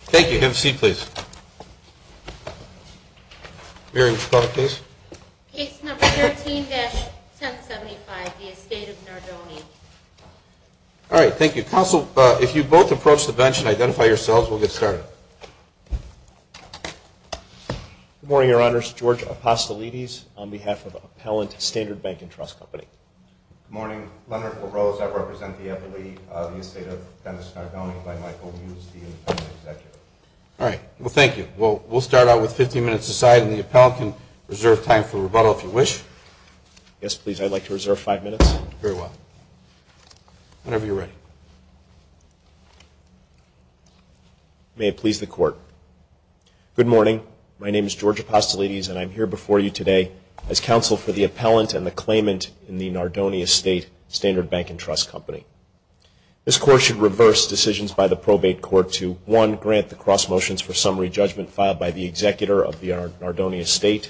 Thank you. Have a seat, please. Mary, would you call the case? Case number 13-1075, the Estate of Nardoni. All right. Thank you. Counsel, if you both approach the bench and identify yourselves, we'll get started. Good morning, Your Honors. George Apostolidis on behalf of Appellant Standard Bank and Trust Company. Good morning. Leonard LaRose. I represent the appellee of the Estate of Dennis Nardoni by Michael Hughes, the independent executive. All right. Well, thank you. We'll start out with 15 minutes a side, and the appellant can reserve time for rebuttal if you wish. Yes, please. I'd like to reserve five minutes. Very well. Whenever you're ready. May it please the Court. Good morning. My name is George Apostolidis, and I'm here before you today as counsel for the appellant and the claimant in the Nardoni Estate Standard Bank and Trust Company. This Court should reverse decisions by the probate court to, one, grant the cross motions for summary judgment filed by the executor of the Nardoni Estate,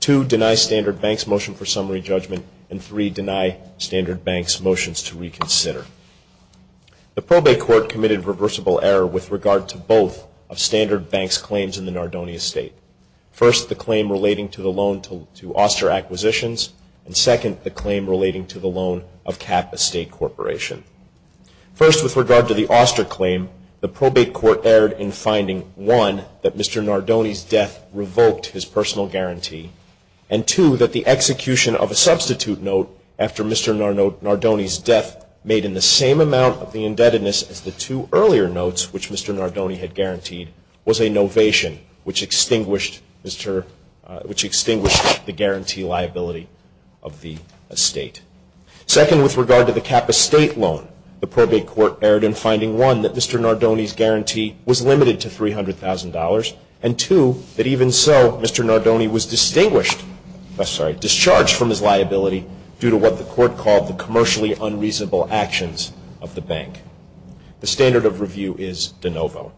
two, deny Standard Bank's motion for summary judgment, and three, deny Standard Bank's motions to reconsider. The probate court committed reversible error with regard to both of Standard Bank's claims in the Nardoni Estate. First, the claim relating to the loan to Oster Acquisitions, and second, the claim relating to the loan of Cap Estate Corporation. First, with regard to the Oster claim, the probate court erred in finding, one, that Mr. Nardoni's death revoked his personal guarantee, and two, that the execution of a substitute note after Mr. Nardoni's death made in the same amount of the indebtedness as the two earlier notes which Mr. Nardoni had guaranteed was a novation, which extinguished the guarantee liability of the estate. Second, with regard to the Cap Estate loan, the probate court erred in finding, one, that Mr. Nardoni's guarantee was limited to $300,000, and two, that even so, Mr. Nardoni was discharged from his liability due to what the court called the commercially unreasonable actions of the bank. The standard of review is de novo.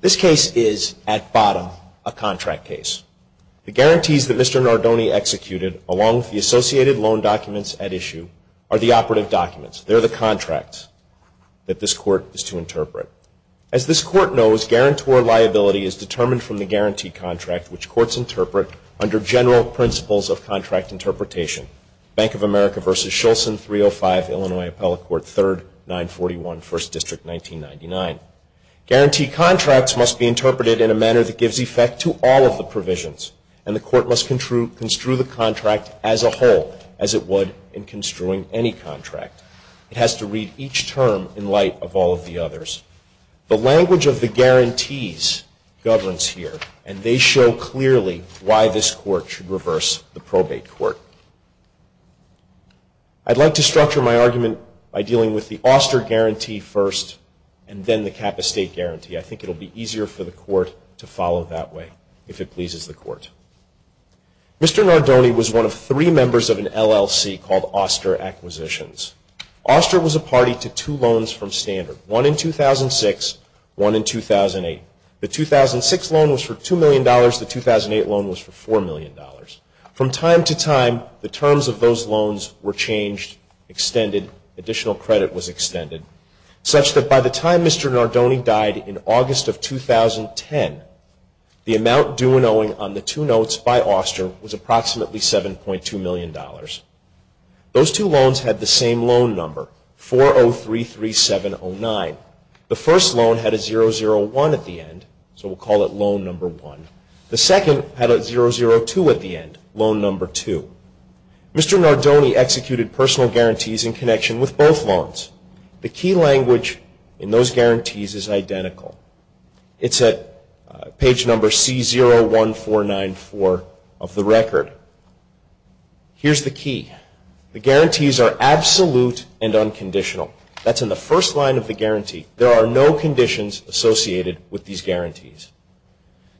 This case is, at bottom, a contract case. The guarantees that Mr. Nardoni executed, along with the associated loan documents at issue, are the operative documents. They're the contracts that this court is to interpret. As this court knows, guarantor liability is determined from the guarantee contract, which courts interpret under general principles of contract interpretation, Bank of America v. Scholson, 305, Illinois Appellate Court, 3rd, 941, 1st District, 1999. Guarantee contracts must be interpreted in a manner that gives effect to all of the provisions, and the court must construe the contract as a whole, as it would in construing any contract. It has to read each term in light of all of the others. The language of the guarantees governs here, and they show clearly why this court should reverse the probate court. I'd like to structure my argument by dealing with the Oster guarantee first and then the Kappa State guarantee. I think it will be easier for the court to follow that way, if it pleases the court. Mr. Nardoni was one of three members of an LLC called Oster Acquisitions. Oster was a party to two loans from Standard. One in 2006, one in 2008. The 2006 loan was for $2 million. The 2008 loan was for $4 million. From time to time, the terms of those loans were changed, extended, additional credit was extended, such that by the time Mr. Nardoni died in August of 2010, the amount due and owing on the two notes by Oster was approximately $7.2 million. Those two loans had the same loan number, 4033709. The first loan had a 001 at the end, so we'll call it loan number one. The second had a 002 at the end, loan number two. Mr. Nardoni executed personal guarantees in connection with both loans. The key language in those guarantees is identical. It's at page number C01494 of the record. Here's the key. The guarantees are absolute and unconditional. That's in the first line of the guarantee. There are no conditions associated with these guarantees.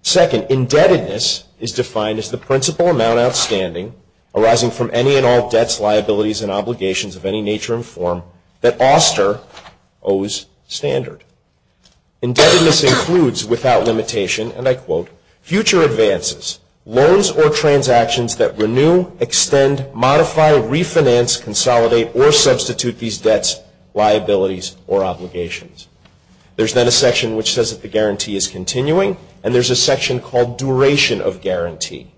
Second, indebtedness is defined as the principal amount outstanding arising from any and all debts, liabilities, and obligations of any nature and form that Oster owes Standard. Indebtedness includes without limitation, and I quote, future advances, loans or transactions that renew, extend, modify, refinance, consolidate, or substitute these debts, liabilities, or obligations. There's then a section which says that the guarantee is continuing, and there's a section called duration of guarantee.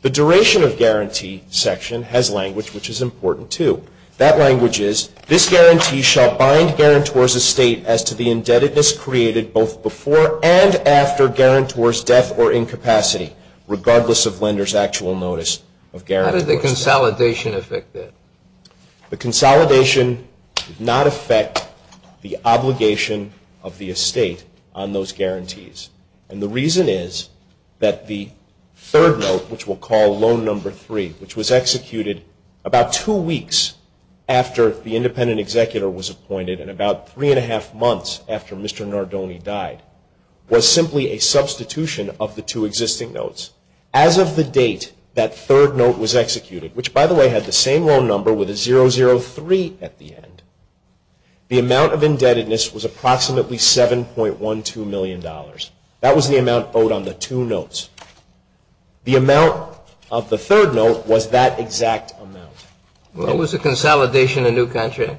The duration of guarantee section has language which is important, too. That language is, this guarantee shall bind guarantors' estate as to the indebtedness created both before and after guarantor's death or incapacity, regardless of lender's actual notice of guarantor's death. How did the consolidation affect that? The consolidation did not affect the obligation of the estate on those guarantees, and the reason is that the third note, which we'll call loan number three, which was executed about two weeks after the independent executor was appointed and about three and a half months after Mr. Nardone died, was simply a substitution of the two existing notes. As of the date that third note was executed, which, by the way, had the same loan number with a 003 at the end, the amount of indebtedness was approximately $7.12 million. That was the amount owed on the two notes. The amount of the third note was that exact amount. Was the consolidation a new country?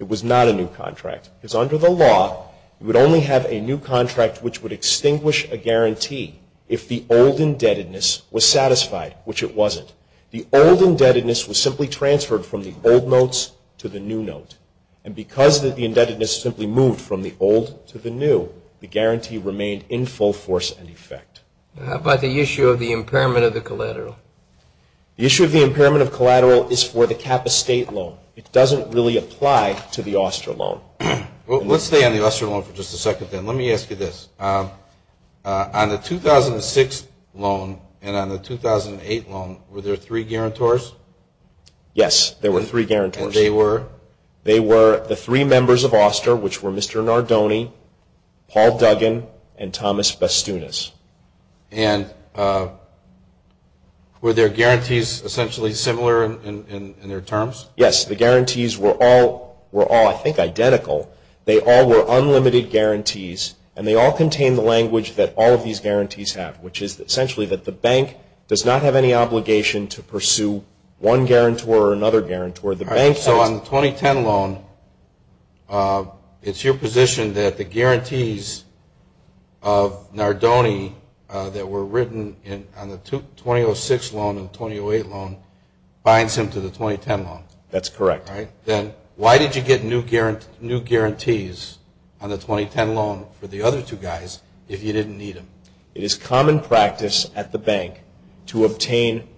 It was not a new contract, because under the law, you would only have a new contract which would extinguish a guarantee if the old indebtedness was satisfied, which it wasn't. The old indebtedness was simply transferred from the old notes to the new note, and because the indebtedness simply moved from the old to the new, the guarantee remained in full force and effect. How about the issue of the impairment of the collateral? The issue of the impairment of collateral is for the cap-estate loan. It doesn't really apply to the Oster loan. Well, let's stay on the Oster loan for just a second, then. Let me ask you this. On the 2006 loan and on the 2008 loan, were there three guarantors? Yes, there were three guarantors. And they were? They were the three members of Oster, which were Mr. Nardone, Paul Duggan, and Thomas Bastunas. And were their guarantees essentially similar in their terms? Yes, the guarantees were all, I think, identical. They all were unlimited guarantees, and they all contained the language that all of these guarantees have, which is essentially that the bank does not have any obligation to pursue one guarantor or another guarantor. So on the 2010 loan, it's your position that the guarantees of Nardone that were written on the 2006 loan and the 2008 loan binds him to the 2010 loan. That's correct. Then why did you get new guarantees on the 2010 loan for the other two guys if you didn't need them? It is common practice at the bank to obtain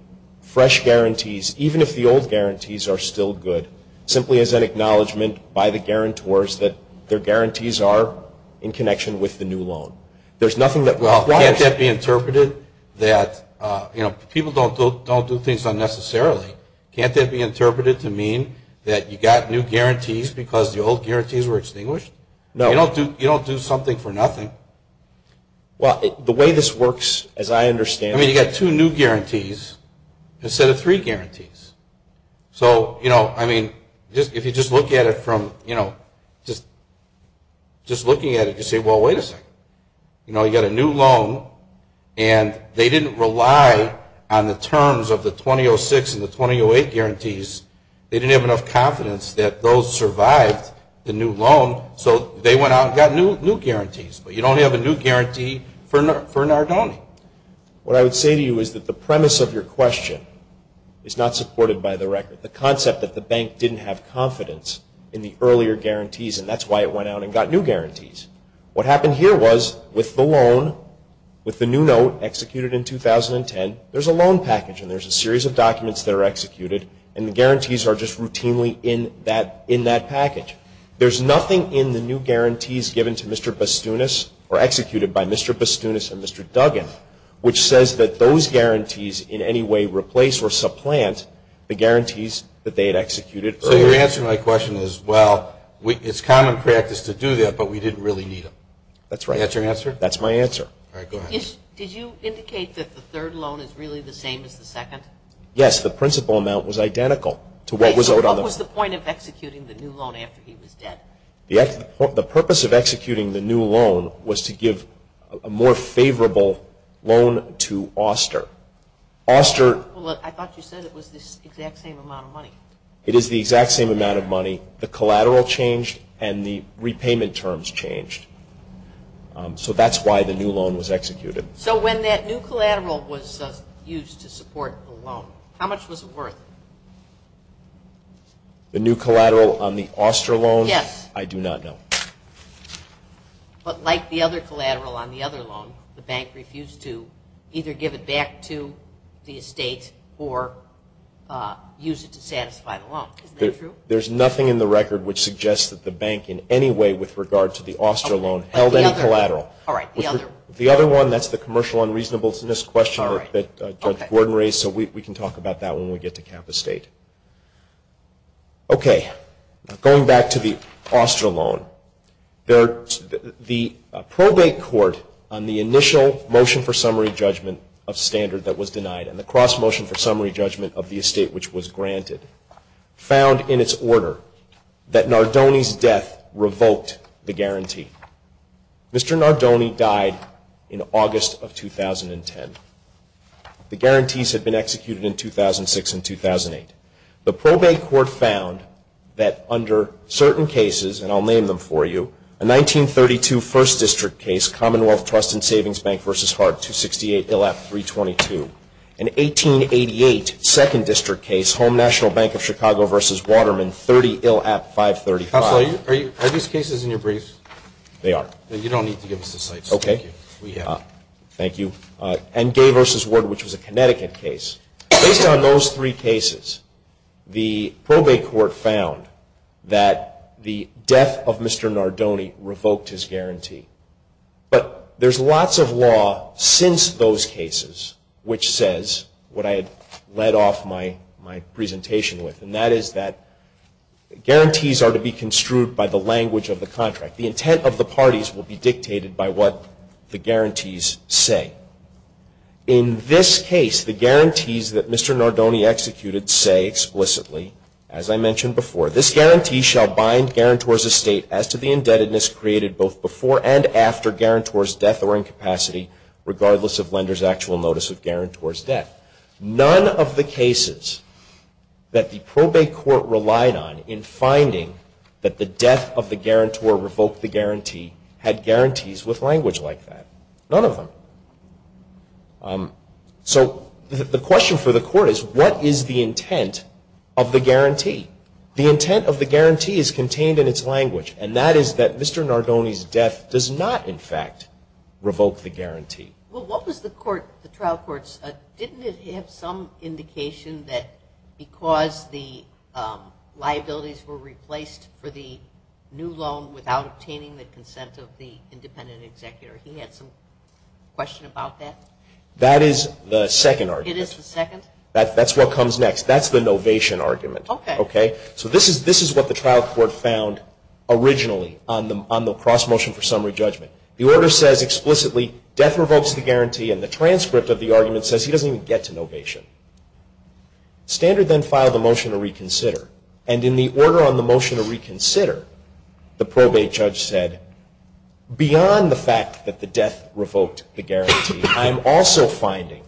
fresh guarantees, even if the old guarantees are still good, simply as an acknowledgment by the guarantors that their guarantees are in connection with the new loan. Well, can't that be interpreted that people don't do things unnecessarily? Can't that be interpreted to mean that you got new guarantees because the old guarantees were extinguished? No. You don't do something for nothing. Well, the way this works, as I understand it… I mean, you got two new guarantees instead of three guarantees. So, you know, I mean, if you just look at it from, you know, just looking at it, you say, well, wait a second. You know, you got a new loan, and they didn't rely on the terms of the 2006 and the 2008 guarantees. They didn't have enough confidence that those survived the new loan, so they went out and got new guarantees. But you don't have a new guarantee for Nardone. What I would say to you is that the premise of your question is not supported by the record. The concept that the bank didn't have confidence in the earlier guarantees, and that's why it went out and got new guarantees. What happened here was with the loan, with the new note executed in 2010, there's a loan package, and there's a series of documents that are executed, and the guarantees are just routinely in that package. There's nothing in the new guarantees given to Mr. Bastunas, or executed by Mr. Bastunas and Mr. Duggan, which says that those guarantees in any way replace or supplant the guarantees that they had executed earlier. So your answer to my question is, well, it's common practice to do that, but we didn't really need them. That's right. That's your answer? That's my answer. All right. Go ahead. Did you indicate that the third loan is really the same as the second? Yes. The principal amount was identical to what was owed on the… The purpose of executing the new loan was to give a more favorable loan to Oster. Oster… Well, I thought you said it was this exact same amount of money. It is the exact same amount of money. The collateral changed, and the repayment terms changed. So that's why the new loan was executed. So when that new collateral was used to support the loan, how much was it worth? The new collateral on the Oster loan? Yes. I do not know. But like the other collateral on the other loan, the bank refused to either give it back to the estate or use it to satisfy the loan. Isn't that true? There's nothing in the record which suggests that the bank in any way with regard to the Oster loan held any collateral. All right. The other one. The other one, that's the commercial unreasonableness question that Judge Gordon raised, so we can talk about that when we get to Cap Estate. Okay. Going back to the Oster loan, the probate court on the initial motion for summary judgment of standard that was denied and the cross-motion for summary judgment of the estate which was granted found in its order that Nardone's death revoked the guarantee. Mr. Nardone died in August of 2010. The guarantees had been executed in 2006 and 2008. The probate court found that under certain cases, and I'll name them for you, a 1932 First District case, Commonwealth Trust and Savings Bank v. Hart, 268 ILAP 322, an 1888 Second District case, Home National Bank of Chicago v. Waterman, 30 ILAP 535. Are these cases in your briefs? They are. You don't need to give us the cites. Okay. Thank you. And Gay v. Ward, which was a Connecticut case. Based on those three cases, the probate court found that the death of Mr. Nardone revoked his guarantee. But there's lots of law since those cases which says what I had led off my presentation with, and that is that guarantees are to be construed by the language of the contract. The intent of the parties will be dictated by what the guarantees say. In this case, the guarantees that Mr. Nardone executed say explicitly, as I mentioned before, this guarantee shall bind guarantor's estate as to the indebtedness created both before and after guarantor's death or incapacity, regardless of lender's actual notice of guarantor's death. None of the cases that the probate court relied on in finding that the death of the guarantor revoked the guarantee had guarantees with language like that. None of them. So the question for the court is what is the intent of the guarantee? The intent of the guarantee is contained in its language, and that is that Mr. Nardone's death does not, in fact, revoke the guarantee. Well, what was the trial court's, didn't it have some indication that because the liabilities were replaced for the new loan without obtaining the consent of the independent executor, he had some question about that? That is the second argument. It is the second? That's what comes next. That's the novation argument. Okay. Okay? So this is what the trial court found originally on the cross-motion for summary judgment. The order says explicitly death revokes the guarantee, and the transcript of the argument says he doesn't even get to novation. Standard then filed a motion to reconsider, and in the order on the motion to reconsider, the probate judge said, beyond the fact that the death revoked the guarantee, I am also finding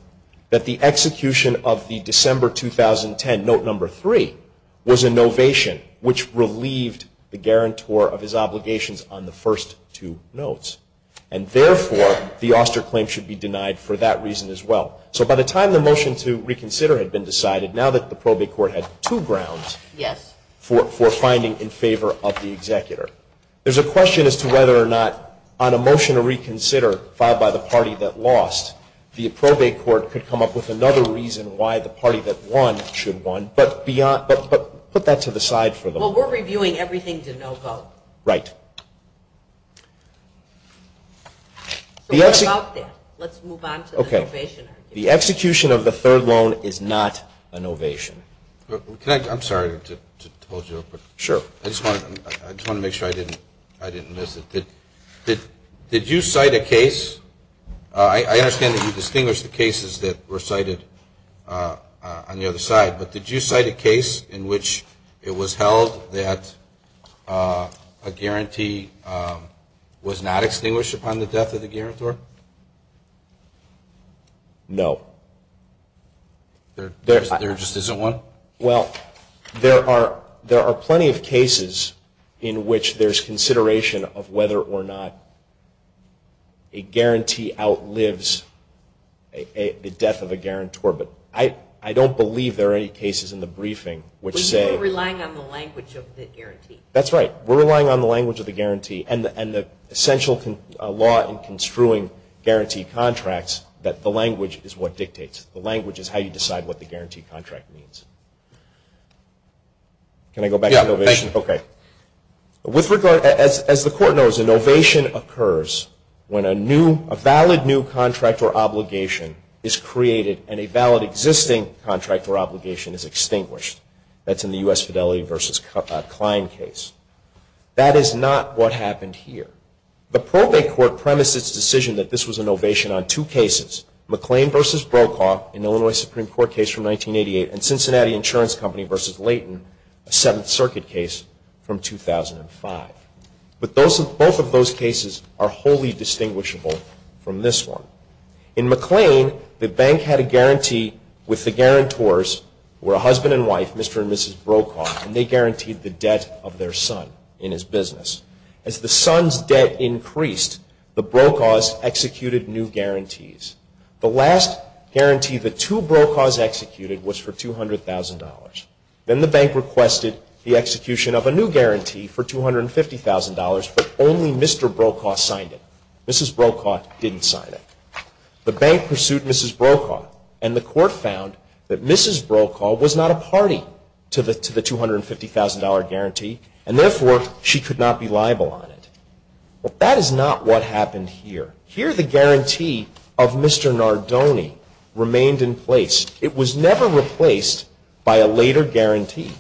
that the execution of the December 2010 note number three was a novation, which relieved the guarantor of his obligations on the first two notes, and therefore the Auster claim should be denied for that reason as well. So by the time the motion to reconsider had been decided, now that the probate court had two grounds for finding in favor of the executor, there's a question as to whether or not on a motion to reconsider filed by the party that lost, the probate court could come up with another reason why the party that won should won, but put that to the side for the moment. Well, we're reviewing everything to no vote. Right. So what about that? Let's move on to the novation argument. The execution of the third loan is not a novation. I'm sorry to hold you up. Sure. Did you cite a case? I understand that you distinguished the cases that were cited on the other side, but did you cite a case in which it was held that a guarantee was not extinguished upon the death of the guarantor? No. There just isn't one? Well, there are plenty of cases in which there's consideration of whether or not a guarantee outlives the death of a guarantor, but I don't believe there are any cases in the briefing which say… We're relying on the language of the guarantee. That's right. We're relying on the language of the guarantee and the essential law in construing guarantee contracts that the language is what dictates. The language is how you decide what the guarantee contract means. Can I go back to novation? Yeah. Thank you. Okay. As the court knows, a novation occurs when a valid new contract or obligation is created and a valid existing contract or obligation is extinguished. That's in the U.S. Fidelity v. Klein case. That is not what happened here. The probate court premised its decision that this was a novation on two cases, McLean v. Brokaw, an Illinois Supreme Court case from 1988, and Cincinnati Insurance Company v. Leighton, a Seventh Circuit case from 2005. But both of those cases are wholly distinguishable from this one. In McLean, the bank had a guarantee with the guarantors who were a husband and wife, Mr. and Mrs. Brokaw, and they guaranteed the debt of their son in his business. As the son's debt increased, the Brokaws executed new guarantees. The last guarantee the two Brokaws executed was for $200,000. Then the bank requested the execution of a new guarantee for $250,000, but only Mr. Brokaw signed it. Mrs. Brokaw didn't sign it. The bank pursued Mrs. Brokaw, and the court found that Mrs. Brokaw was not a party to the $250,000 guarantee, and therefore she could not be liable on it. Well, that is not what happened here. Here the guarantee of Mr. Nardone remained in place. It was never replaced by a later guarantee.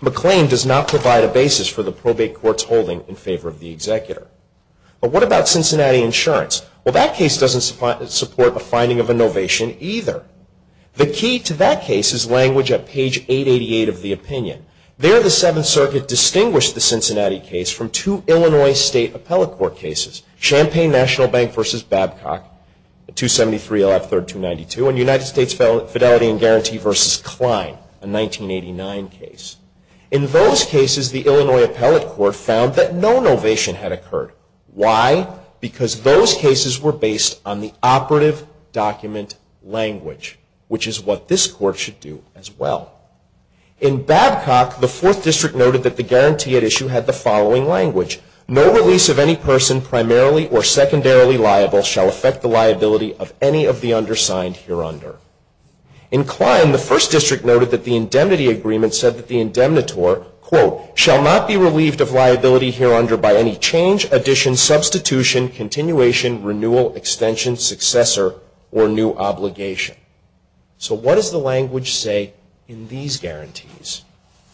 McLean does not provide a basis for the probate court's holding in favor of the executor. But what about Cincinnati Insurance? Well, that case doesn't support a finding of a novation either. The key to that case is language at page 888 of the opinion. There the Seventh Circuit distinguished the Cincinnati case from two Illinois State Appellate Court cases, Champaign National Bank v. Babcock, 273.113.292, and United States Fidelity and Guarantee v. Klein, a 1989 case. In those cases, the Illinois Appellate Court found that no novation had occurred. Why? Because those cases were based on the operative document language, which is what this court should do as well. In Babcock, the Fourth District noted that the guarantee at issue had the following language. No release of any person primarily or secondarily liable shall affect the liability of any of the undersigned hereunder. In Klein, the First District noted that the indemnity agreement said that the indemnitor, quote, shall not be relieved of liability hereunder by any change, addition, substitution, continuation, renewal, extension, successor, or new obligation. So what does the language say in these guarantees?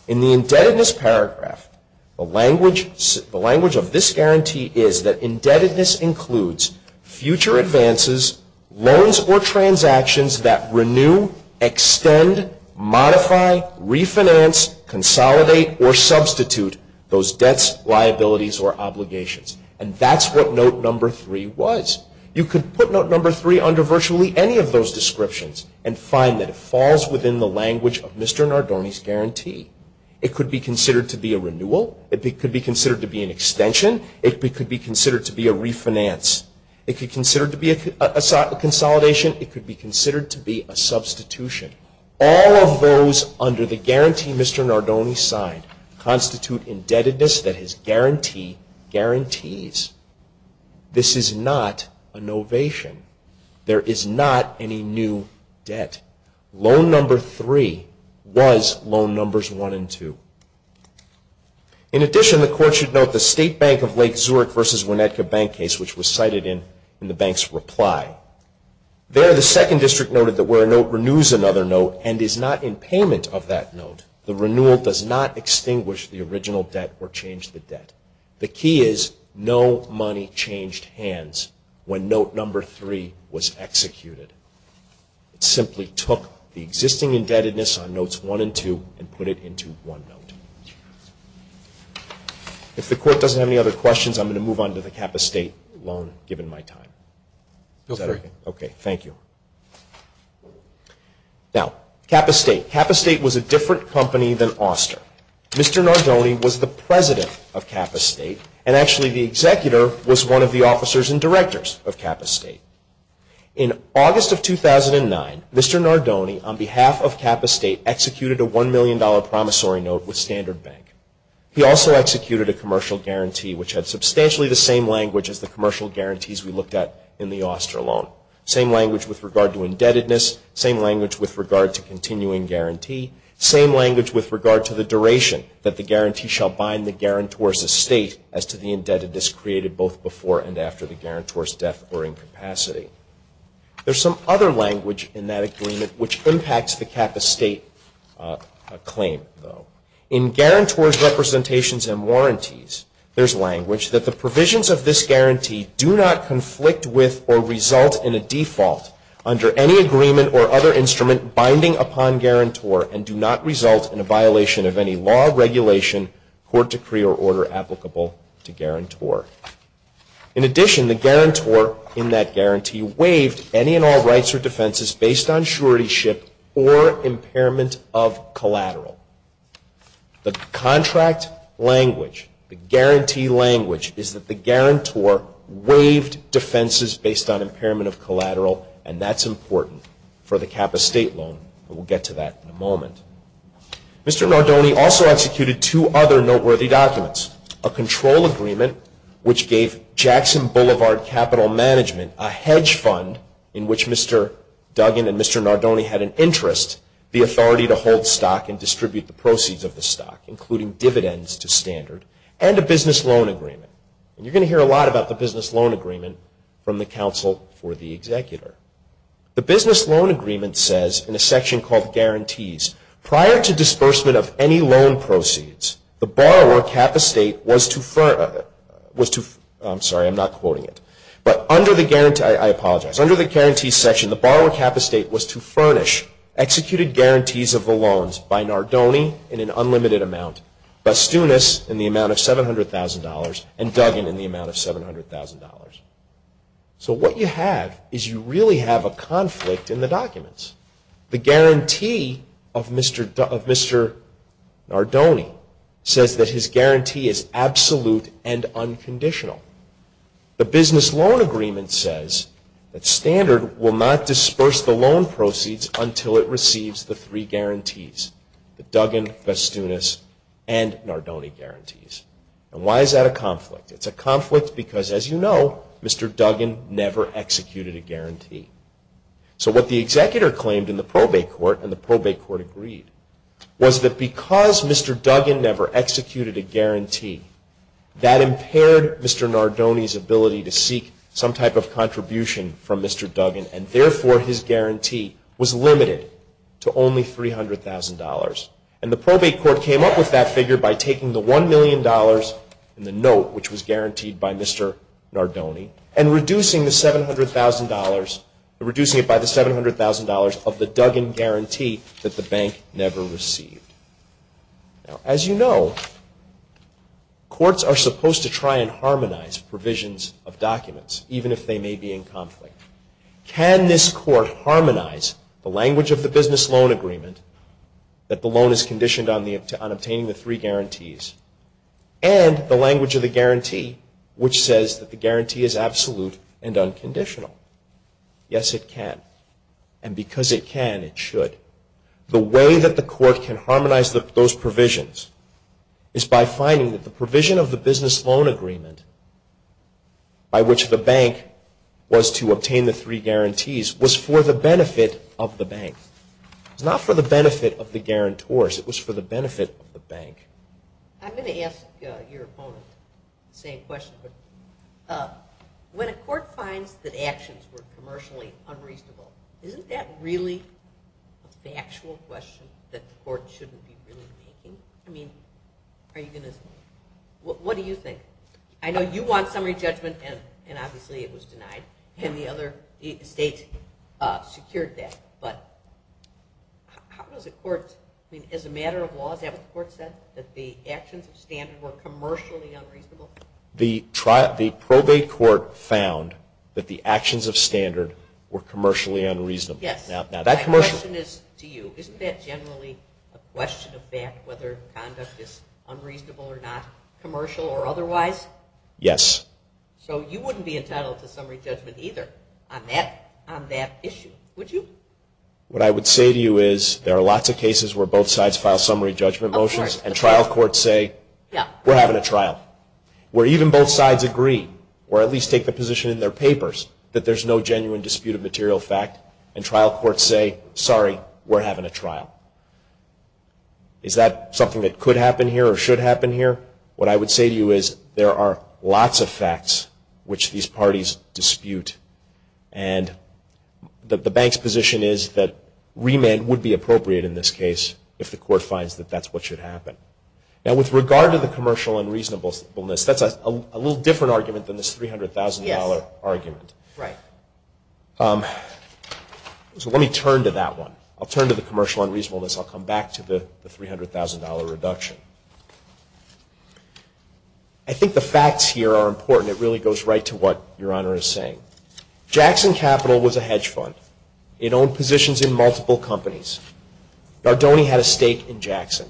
In the indebtedness paragraph, the language of this guarantee is that indebtedness includes future advances, loans or transactions that renew, extend, modify, refinance, consolidate, or substitute those debts, liabilities, or obligations. And that's what note number three was. You could put note number three under virtually any of those descriptions and find that it falls within the language of Mr. Nardone's guarantee. It could be considered to be a renewal. It could be considered to be an extension. It could be considered to be a refinance. It could be considered to be a consolidation. It could be considered to be a substitution. All of those under the guarantee Mr. Nardone signed constitute indebtedness that his guarantee guarantees. This is not a novation. There is not any new debt. Loan number three was loan numbers one and two. In addition, the court should note the State Bank of Lake Zurich versus Winnetka Bank case, which was cited in the bank's reply. There, the second district noted that where a note renews another note and is not in payment of that note, the renewal does not extinguish the original debt or change the debt. The key is no money changed hands when note number three was executed. It simply took the existing indebtedness on notes one and two and put it into one note. If the court doesn't have any other questions, I'm going to move on to the Kappa State loan, given my time. Okay, thank you. Now, Kappa State. Kappa State was a different company than Oster. Mr. Nardone was the president of Kappa State, and actually the executor was one of the officers and directors of Kappa State. In August of 2009, Mr. Nardone, on behalf of Kappa State, executed a $1 million promissory note with Standard Bank. He also executed a commercial guarantee, which had substantially the same language as the commercial guarantees we looked at in the Oster loan. Same language with regard to indebtedness. Same language with regard to continuing guarantee. Same language with regard to the duration that the guarantee shall bind the guarantor's estate as to the indebtedness created both before and after the guarantor's death or incapacity. There's some other language in that agreement which impacts the Kappa State claim, though. In guarantor's representations and warranties, there's language that the provisions of this guarantee do not conflict with or result in a default under any agreement or other instrument binding upon guarantor and do not result in a violation of any law, regulation, court decree, or order applicable to guarantor. In addition, the guarantor in that guarantee waived any and all rights or defenses based on suretyship or impairment of collateral. The contract language, the guarantee language, is that the guarantor waived defenses based on impairment of collateral, and that's important for the Kappa State loan, and we'll get to that in a moment. Mr. Nardone also executed two other noteworthy documents, a control agreement which gave Jackson Boulevard Capital Management a hedge fund in which Mr. Duggan and Mr. Nardone had an interest, the authority to hold stock and distribute the proceeds of the stock, including dividends to standard, and a business loan agreement. And you're going to hear a lot about the business loan agreement from the counsel for the executor. The business loan agreement says in a section called guarantees, prior to disbursement of any loan proceeds, the borrower Kappa State was to, I'm sorry, I'm not quoting it, but under the guarantee, I apologize, under the guarantees section, the borrower Kappa State was to furnish executed guarantees of the loans by Nardone in an unlimited amount, Bastunas in the amount of $700,000, and Duggan in the amount of $700,000. So what you have is you really have a conflict in the documents. The guarantee of Mr. Nardone says that his guarantee is absolute and unconditional. The business loan agreement says that standard will not disperse the loan proceeds until it receives the three guarantees, the Duggan, Bastunas, and Nardone guarantees. And why is that a conflict? It's a conflict because, as you know, Mr. Duggan never executed a guarantee. So what the executor claimed in the probate court, and the probate court agreed, was that because Mr. Duggan never executed a guarantee, that impaired Mr. Nardone's ability to seek some type of contribution from Mr. Duggan, and therefore his guarantee was limited to only $300,000. And the probate court came up with that figure by taking the $1 million in the note, which was guaranteed by Mr. Nardone, and reducing it by the $700,000 of the Duggan guarantee that the bank never received. As you know, courts are supposed to try and harmonize provisions of documents, even if they may be in conflict. Can this court harmonize the language of the business loan agreement, that the loan is conditioned on obtaining the three guarantees, and the language of the guarantee, which says that the guarantee is absolute and unconditional? Yes, it can. And because it can, it should. The way that the court can harmonize those provisions is by finding that the provision of the business loan agreement, by which the bank was to obtain the three guarantees, was for the benefit of the bank. It was not for the benefit of the guarantors. It was for the benefit of the bank. I'm going to ask your opponent the same question. When a court finds that actions were commercially unreasonable, isn't that really the actual question that the court shouldn't be really making? What do you think? I know you want summary judgment, and obviously it was denied, and the other states secured that. But as a matter of law, is that what the court said, that the actions of standard were commercially unreasonable? The probate court found that the actions of standard were commercially unreasonable. Yes, my question is to you. Isn't that generally a question of fact, whether conduct is unreasonable or not, commercial or otherwise? Yes. So you wouldn't be entitled to summary judgment either on that issue, would you? What I would say to you is there are lots of cases where both sides file summary judgment motions and trial courts say, we're having a trial. Where even both sides agree, or at least take the position in their papers, that there's no genuine dispute of material fact, and trial courts say, sorry, we're having a trial. Is that something that could happen here or should happen here? What I would say to you is there are lots of facts which these parties dispute, and the bank's position is that remand would be appropriate in this case if the court finds that that's what should happen. Now with regard to the commercial unreasonableness, that's a little different argument than this $300,000 argument. Right. So let me turn to that one. I'll turn to the commercial unreasonableness. I'll come back to the $300,000 reduction. I think the facts here are important. It really goes right to what Your Honor is saying. Jackson Capital was a hedge fund. It owned positions in multiple companies. Gardoni had a stake in Jackson.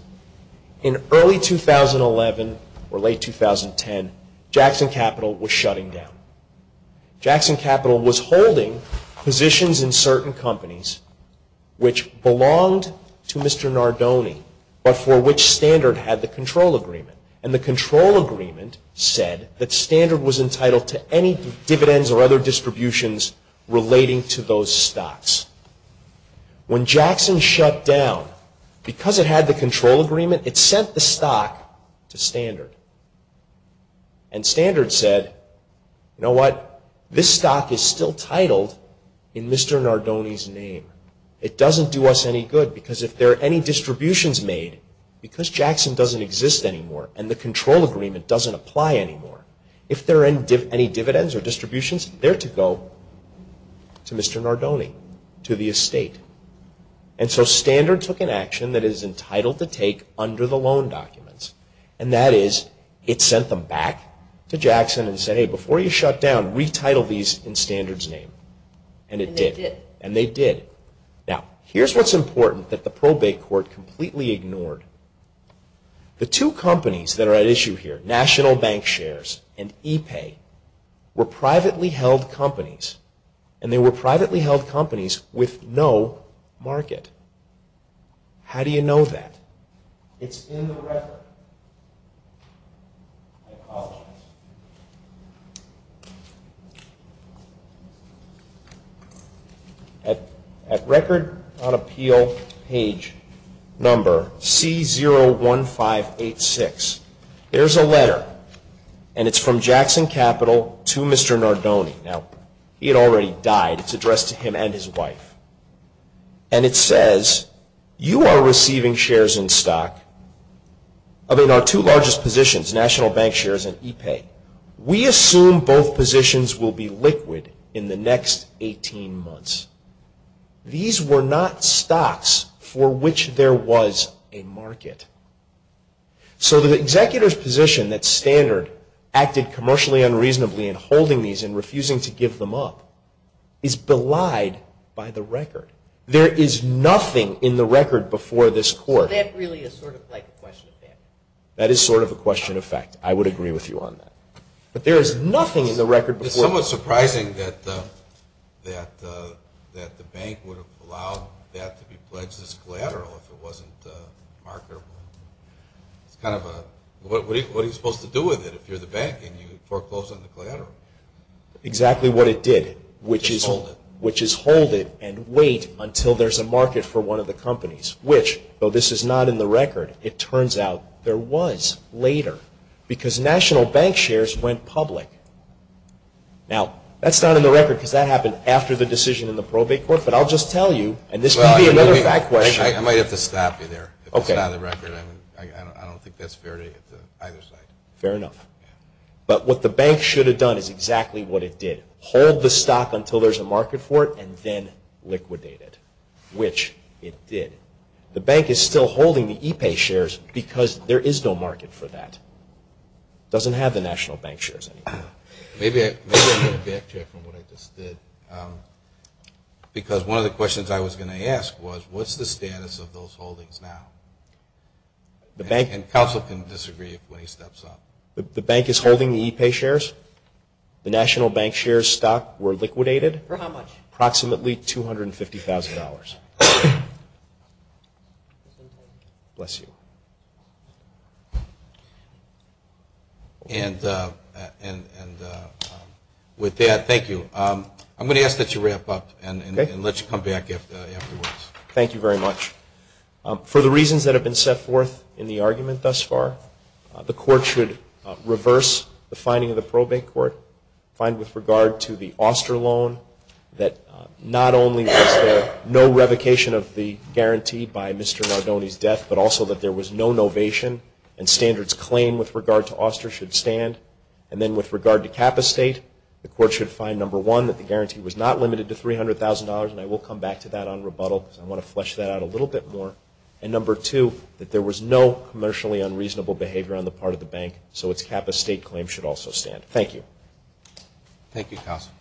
In early 2011 or late 2010, Jackson Capital was shutting down. Jackson Capital was holding positions in certain companies which belonged to Mr. Gardoni, but for which Standard had the control agreement. And the control agreement said that Standard was entitled to any dividends or other distributions relating to those stocks. When Jackson shut down, because it had the control agreement, it sent the stock to Standard. And Standard said, you know what, this stock is still titled in Mr. Gardoni's name. It doesn't do us any good because if there are any distributions made, because Jackson doesn't exist anymore and the control agreement doesn't apply anymore, if there are any dividends or distributions, they're to go to Mr. Gardoni, to the estate. And so Standard took an action that it is entitled to take under the loan documents. And that is, it sent them back to Jackson and said, hey, before you shut down, retitle these in Standard's name. And it did. And they did. Now, here's what's important that the probate court completely ignored. The two companies that are at issue here, National Bank Shares and ePay, were privately held companies. And they were privately held companies with no market. How do you know that? It's in the record. I apologize. At Record on Appeal, page number C01586, there's a letter. And it's from Jackson Capital to Mr. Gardoni. Now, he had already died. It's addressed to him and his wife. And it says, you are receiving shares in stock in our two largest positions, National Bank Shares and ePay. We assume both positions will be liquid in the next 18 months. These were not stocks for which there was a market. So the executor's position that Standard acted commercially unreasonably in holding these and refusing to give them up is belied by the record. There is nothing in the record before this court. So that really is sort of like a question of fact. That is sort of a question of fact. I would agree with you on that. But there is nothing in the record before this court. It's somewhat surprising that the bank would have allowed that to be pledged as collateral if it wasn't marketable. It's kind of a, what are you supposed to do with it if you're the bank and you foreclose on the collateral? Exactly what it did, which is hold it and wait until there's a market for one of the companies, which, though this is not in the record, it turns out there was later because National Bank Shares went public. Now, that's not in the record because that happened after the decision in the probate court, but I'll just tell you, and this may be another fact question. I might have to stop you there. If it's not in the record, I don't think that's fair to either side. Fair enough. But what the bank should have done is exactly what it did. Hold the stock until there's a market for it and then liquidate it, which it did. The bank is still holding the ePay shares because there is no market for that. It doesn't have the National Bank Shares anymore. Maybe I'm going to backtrack from what I just did because one of the questions I was going to ask was, what's the status of those holdings now? And counsel can disagree when he steps up. The bank is holding the ePay shares. The National Bank Shares stock were liquidated. For how much? Approximately $250,000. Bless you. And with that, thank you. I'm going to ask that you wrap up and let you come back afterwards. Thank you very much. For the reasons that have been set forth in the argument thus far, the court should reverse the finding of the probate court, find with regard to the Oster loan, that not only was there no revocation of the guarantee by Mr. Nardone's death, but also that there was no novation and standards claim with regard to Oster should stand. And then with regard to Kappa State, the court should find, number one, that the guarantee was not limited to $300,000. And I will come back to that on rebuttal because I want to flesh that out a little bit more. And number two, that there was no commercially unreasonable behavior on the part of the bank, so its Kappa State claim should also stand. Thank you, counsel.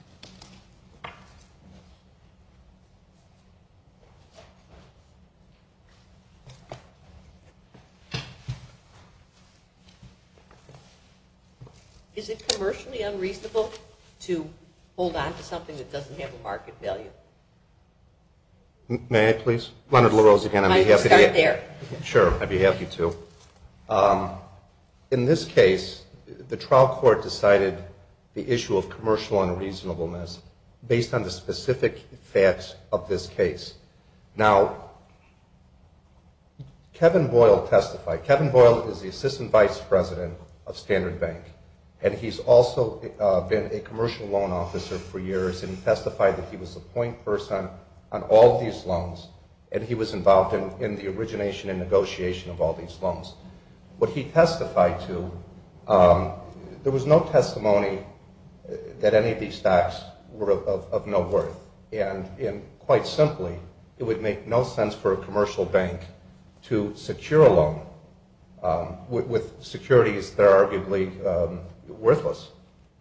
Is it commercially unreasonable to hold on to something that doesn't have a market value? May I, please? Leonard LaRose again, I'd be happy to. Start there. Sure, I'd be happy to. In this case, the trial court decided the issue of commercial unreasonableness based on the specific facts of this case. Now, Kevin Boyle testified. Kevin Boyle is the assistant vice president of Standard Bank, and he's also been a commercial loan officer for years, and he testified that he was the point person on all these loans, and he was involved in the origination and negotiation of all these loans. What he testified to, there was no testimony that any of these stocks were of no worth, and quite simply, it would make no sense for a commercial bank to secure a loan. With securities, they're arguably worthless.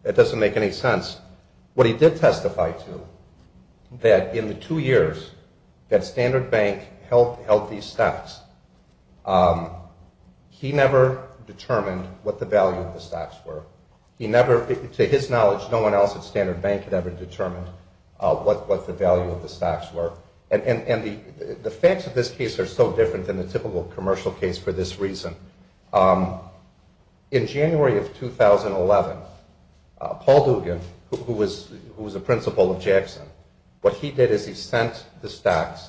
It doesn't make any sense. What he did testify to, that in the two years that Standard Bank held these stocks, he never determined what the value of the stocks were. He never, to his knowledge, no one else at Standard Bank had ever determined what the value of the stocks were, and the facts of this case are so different than the typical commercial case for this reason. In January of 2011, Paul Dugan, who was a principal of Jackson, what he did is he sent the stocks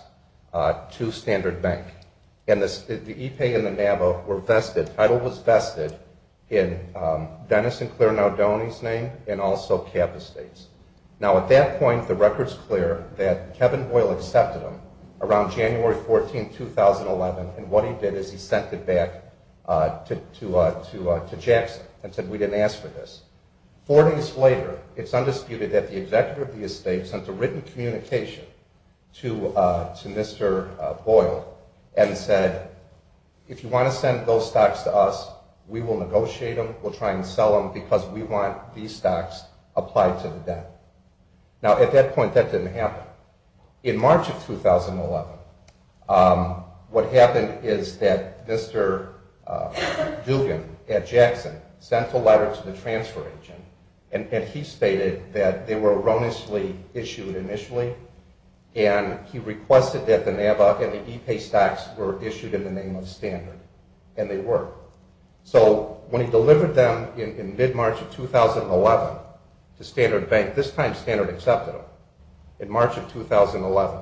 to Standard Bank, and the e-pay and the NAVA were vested, title was vested in Dennis and Claire Naudoni's name and also CAB Estates. Now, at that point, the record's clear that Kevin Boyle accepted them around January 14, 2011, and what he did is he sent it back to Jackson and said, we didn't ask for this. Four days later, it's undisputed that the executive of the estate sent a written communication to Mr. Boyle and said, if you want to send those stocks to us, we will negotiate them, we'll try and sell them because we want these stocks applied to the debt. Now, at that point, that didn't happen. In March of 2011, what happened is that Mr. Dugan at Jackson sent a letter to the transfer agent, and he stated that they were erroneously issued initially, and he requested that the NAVA and the e-pay stocks were issued in the name of Standard, and they were. So when he delivered them in mid-March of 2011 to Standard Bank, this time Standard accepted them. In March of 2011,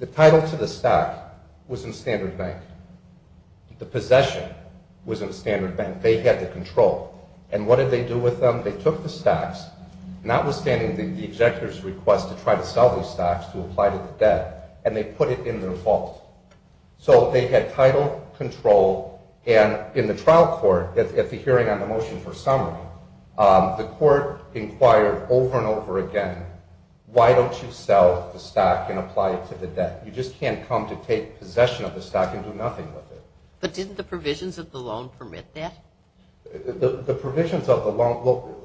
the title to the stock was in Standard Bank. The possession was in Standard Bank. They had the control, and what did they do with them? They took the stocks, notwithstanding the executor's request to try to sell these stocks to apply to the debt, and they put it in their vault. So they had title, control, and in the trial court, at the hearing on the motion for summary, the court inquired over and over again, why don't you sell the stock and apply it to the debt? You just can't come to take possession of the stock and do nothing with it. But didn't the provisions of the loan permit that? The provisions of the loan, look,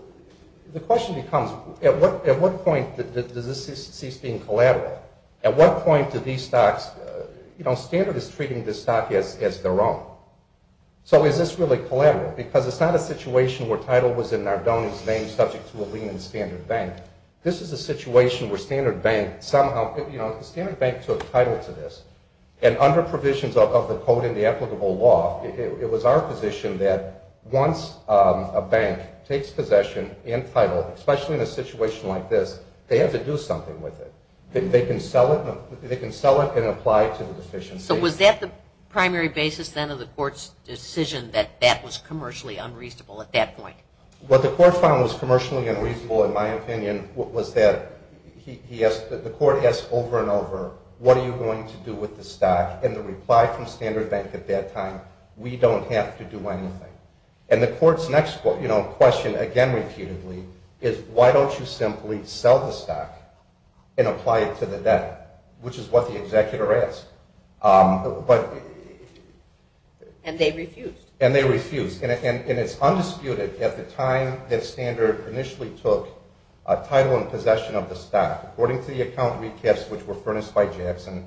the question becomes, at what point does this cease being collateral? At what point do these stocks, you know, Standard is treating this stock as their own. So is this really collateral? Because it's not a situation where title was in Nardone's name subject to a lien in Standard Bank. This is a situation where Standard Bank somehow, you know, Standard Bank took title to this, and under provisions of the Code and the applicable law, it was our position that once a bank takes possession and title, especially in a situation like this, they have to do something with it. They can sell it and apply it to the deficiencies. So was that the primary basis, then, of the court's decision that that was commercially unreasonable at that point? What the court found was commercially unreasonable, in my opinion, was that the court asked over and over, what are you going to do with the stock? And the reply from Standard Bank at that time, we don't have to do anything. And the court's next question, again, repeatedly, is why don't you simply sell the stock and apply it to the debt, which is what the executor asked. And they refused. And they refused. And it's undisputed, at the time that Standard initially took title and possession of the stock, according to the account recaps which were furnished by Jackson,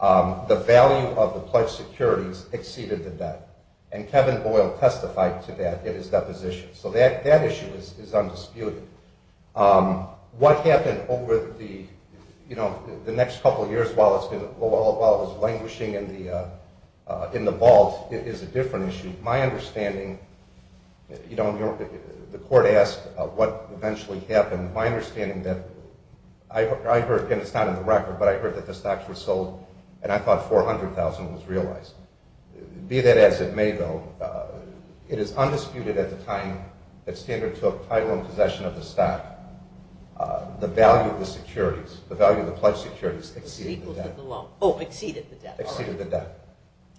the value of the pledged securities exceeded the debt. And Kevin Boyle testified to that in his deposition. So that issue is undisputed. What happened over the next couple of years while it was languishing in the vault is a different issue. My understanding, the court asked what eventually happened. My understanding that I heard, and it's not in the record, but I heard that the stocks were sold, and I thought $400,000 was realized. Be that as it may, though, it is undisputed at the time that Standard took title and possession of the stock, the value of the securities, the value of the pledged securities exceeded the debt.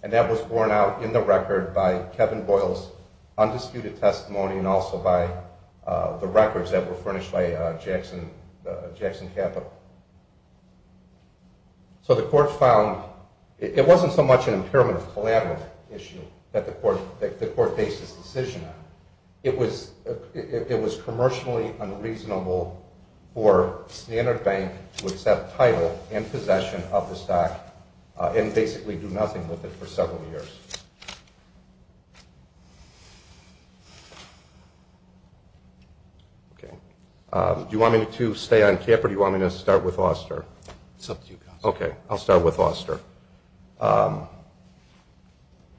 And that was borne out in the record by Kevin Boyle's undisputed testimony and also by the records that were furnished by Jackson Capital. So the court found it wasn't so much an impairment of collateral issue that the court based its decision on. It was commercially unreasonable for Standard Bank to accept title and possession of the stock and basically do nothing with it for several years. Okay. Do you want me to stay on CAP or do you want me to start with Oster? It's up to you, Constable. Okay. I'll start with Oster.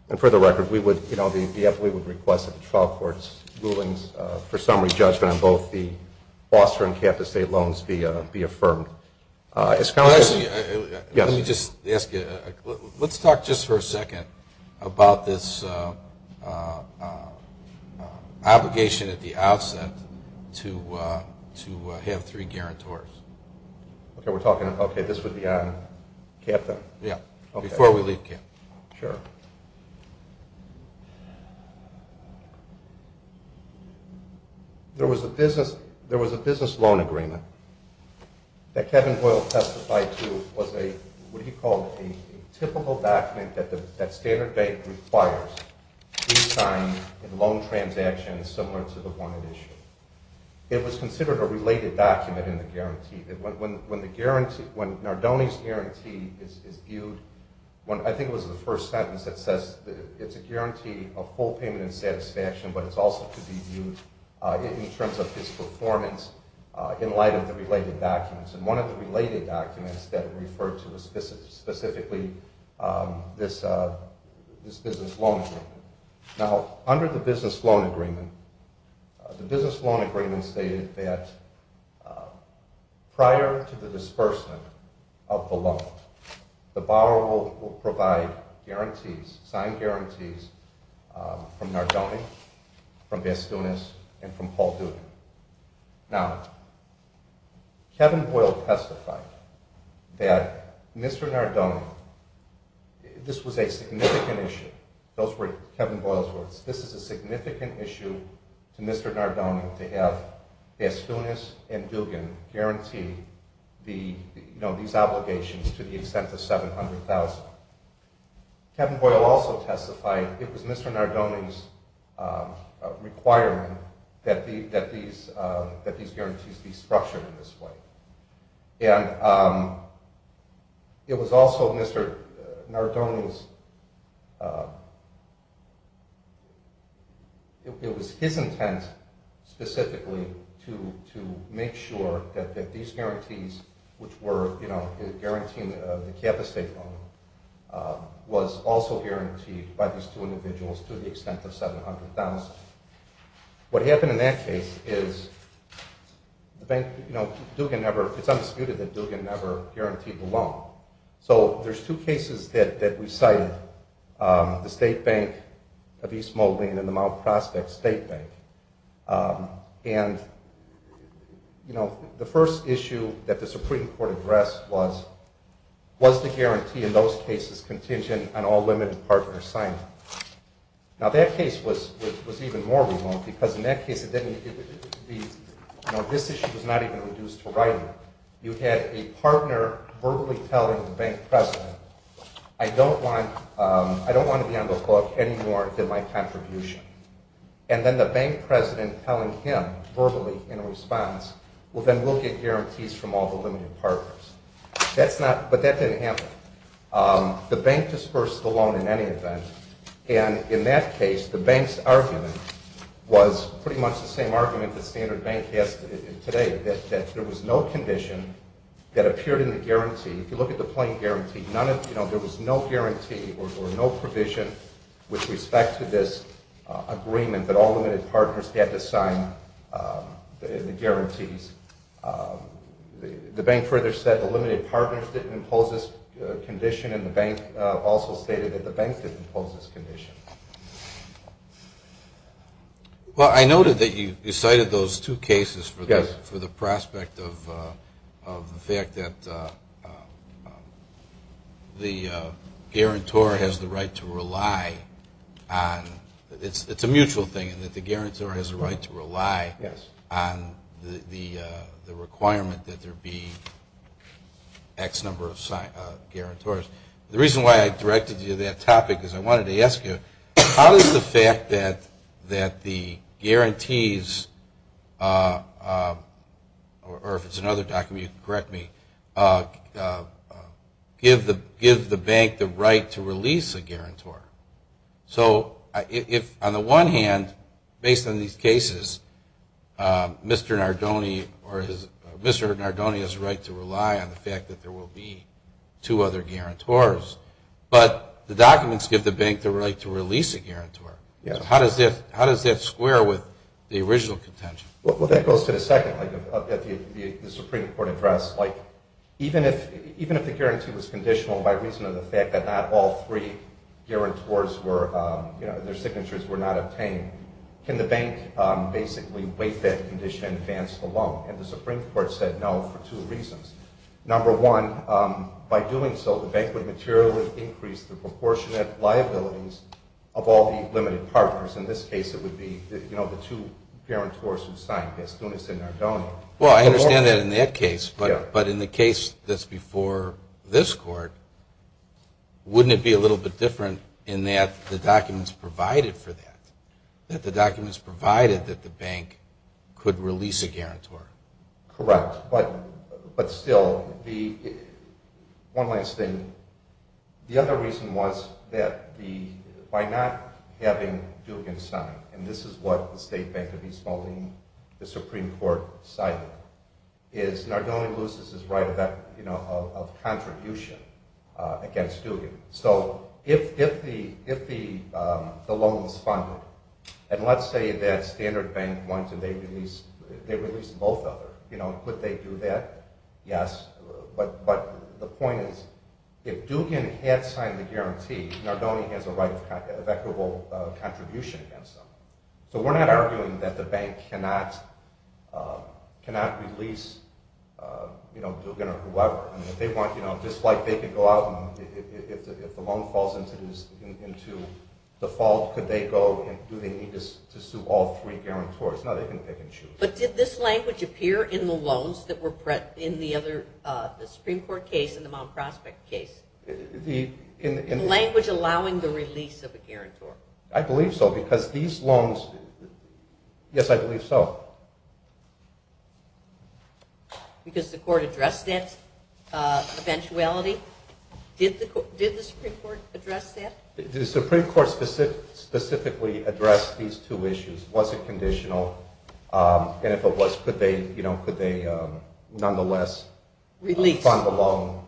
And for the record, we would request that the trial court's rulings for summary judgment on both the Oster and CAP estate loans be affirmed. Let me just ask you, let's talk just for a second. About this obligation at the outset to have three guarantors. Okay. We're talking, okay, this would be on CAP then? Yeah, before we leave CAP. Sure. There was a business loan agreement that Kevin Boyle testified to was a, what he called a typical document that Standard Bank requires to sign a loan transaction similar to the one at issue. It was considered a related document in the guarantee. When Nardoni's guarantee is viewed, I think it was the first sentence that says it's a guarantee of full payment and satisfaction, but it's also to be viewed in terms of its performance in light of the related documents. And one of the related documents that it referred to was specifically this business loan agreement. Now, under the business loan agreement, the business loan agreement stated that prior to the disbursement of the loan, the borrower will provide guarantees, signed guarantees from Nardoni, from Bastunas, and from Paul Duda. Now, Kevin Boyle testified that Mr. Nardoni, this was a significant issue. Those were Kevin Boyle's words. This is a significant issue to Mr. Nardoni to have Bastunas and Dugan guarantee these obligations to the extent of $700,000. Kevin Boyle also testified it was Mr. Nardoni's requirement that these guarantees be structured in this way. And it was also Mr. Nardoni's, it was his intent specifically to make sure that these guarantees, which were guaranteeing the capital estate loan, was also guaranteed by these two individuals to the extent of $700,000. What happened in that case is Dugan never, it's undisputed that Dugan never guaranteed the loan. So there's two cases that we cited, the State Bank of East Moline and the Mount Prospect State Bank. And the first issue that the Supreme Court addressed was, was the guarantee in those cases contingent on all limited partners signed? Now that case was even more remote because in that case it didn't, this issue was not even reduced to writing. You had a partner verbally telling the bank president, I don't want to be on the book any more than my contribution. And then the bank president telling him verbally in response, well then we'll get guarantees from all the limited partners. That's not, but that didn't happen. The bank disbursed the loan in any event. And in that case, the bank's argument was pretty much the same argument that Standard Bank has today, that there was no condition that appeared in the guarantee. If you look at the plain guarantee, none of, you know, there was no guarantee or no provision with respect to this agreement that all limited partners had to sign the guarantees. The bank further said the limited partners didn't impose this condition and the bank also stated that the bank didn't impose this condition. Well, I noted that you cited those two cases for the prospect of the fact that the guarantor has the right to rely on, it's a mutual thing, and that the guarantor has the right to rely on the requirement that there be X number of guarantors. The reason why I directed you to that topic is I wanted to ask you, how does the fact that the guarantees, or if it's another document you can correct me, give the bank the right to release a guarantor? So if, on the one hand, based on these cases, Mr. Nardone has a right to rely on the fact that there will be two other guarantors, but the documents give the bank the right to release a guarantor. So how does that square with the original contention? Well, that goes to the second point of the Supreme Court address. Even if the guarantee was conditional by reason of the fact that not all three guarantors, their signatures were not obtained, can the bank basically waive that condition and advance the loan? And the Supreme Court said no for two reasons. Number one, by doing so, the bank would materially increase the proportionate liabilities of all the limited partners. In this case, it would be the two guarantors who signed this, Nunes and Nardone. Well, I understand that in that case, but in the case that's before this Court, wouldn't it be a little bit different in that the documents provided for that, that the documents provided that the bank could release a guarantor? Correct, but still, one last thing. The other reason was that by not having Dugan sign, and this is what the State Bank of East Moline, the Supreme Court, cited, is Nardone loses his right of contribution against Dugan. So if the loan was funded, and let's say that Standard Bank wanted to release both of them, would they do that? Yes, but the point is if Dugan had signed the guarantee, Nardone has a right of equitable contribution against them. So we're not arguing that the bank cannot release Dugan or whoever. Just like they could go out and if the loan falls into default, could they go and do they need to sue all three guarantors? No, they can choose. But did this language appear in the loans that were in the Supreme Court case and the Mount Prospect case? The language allowing the release of a guarantor? I believe so, because these loans, yes, I believe so. Because the court addressed that eventuality? Did the Supreme Court address that? The Supreme Court specifically addressed these two issues. Was it conditional? And if it was, could they nonetheless fund the loan?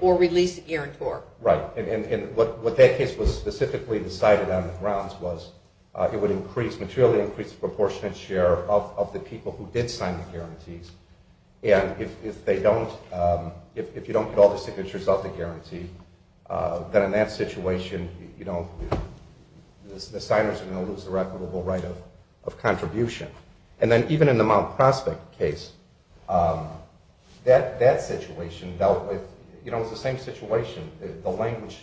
Or release the guarantor? Right. And what that case was specifically decided on the grounds was it would increase, materially increase the proportionate share of the people who did sign the guarantees. And if you don't get all the signatures of the guarantee, then in that situation, the signers are going to lose their equitable right of contribution. And then even in the Mount Prospect case, that situation dealt with, you know, it was the same situation. The language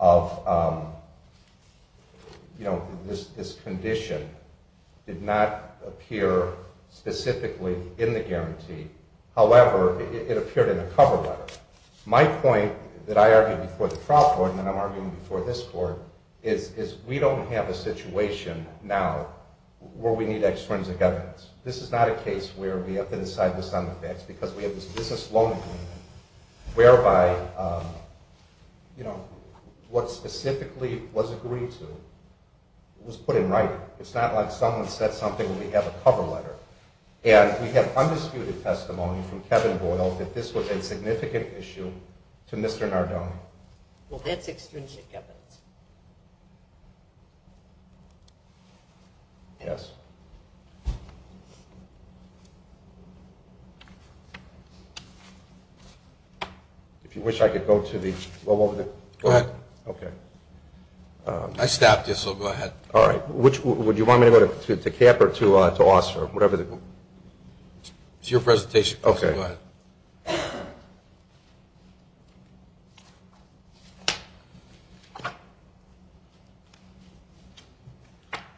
of, you know, this condition did not appear specifically in the guarantee. However, it appeared in the cover letter. My point that I argued before the trial court and I'm arguing before this court, is we don't have a situation now where we need extrinsic evidence. This is not a case where we have to decide this on the facts, because we have this business loan agreement whereby, you know, what specifically was agreed to was put in writing. It's not like someone said something and we have a cover letter. And we have undisputed testimony from Kevin Boyle that this was a significant issue to Mr. Nardone. Well, that's extrinsic evidence. Yes. If you wish, I could go to the – go over the – Go ahead. Okay. I stopped you, so go ahead. All right. Would you want me to go to Cap or to Oss or whatever the – It's your presentation. Okay. Go ahead.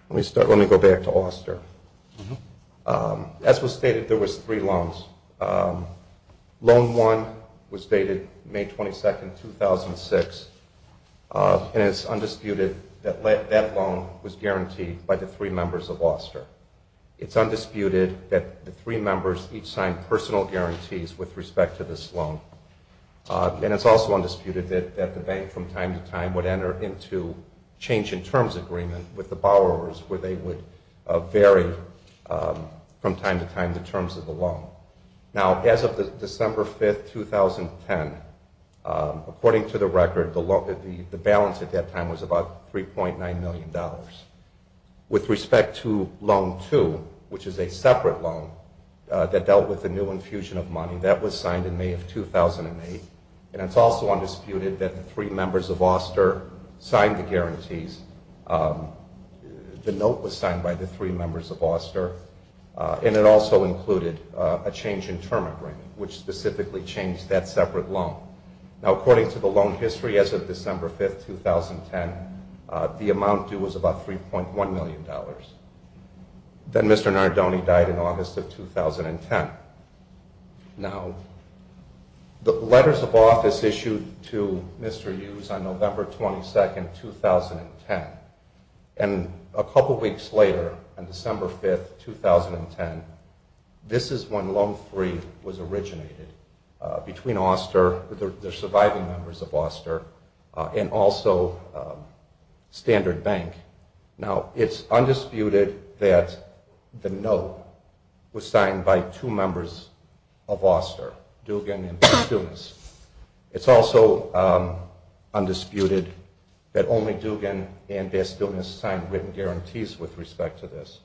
Let me start – let me go back to Oster. As was stated, there was three loans. Loan one was dated May 22, 2006, and it's undisputed that that loan was guaranteed by the three members of Oster. It's undisputed that the three members each signed personal guarantees with respect to this loan. And it's also undisputed that the bank from time to time would enter into change-in-terms agreement with the borrowers where they would vary from time to time the terms of the loan. Now, as of December 5, 2010, according to the record, the balance at that time was about $3.9 million. With respect to loan two, which is a separate loan that dealt with the new infusion of money, that was signed in May of 2008, and it's also undisputed that the three members of Oster signed the guarantees. The note was signed by the three members of Oster, and it also included a change-in-term agreement, which specifically changed that separate loan. Now, according to the loan history, as of December 5, 2010, the amount due was about $3.1 million. Then Mr. Nardone died in August of 2010. Now, the letters of office issued to Mr. Hughes on November 22, 2010, and a couple weeks later, on December 5, 2010, this is when loan three was originated between Oster, the surviving members of Oster, and also Standard Bank. Now, it's undisputed that the note was signed by two members of Oster, Dugan and Bastunas. It's also undisputed that only Dugan and Bastunas signed written guarantees with respect to this.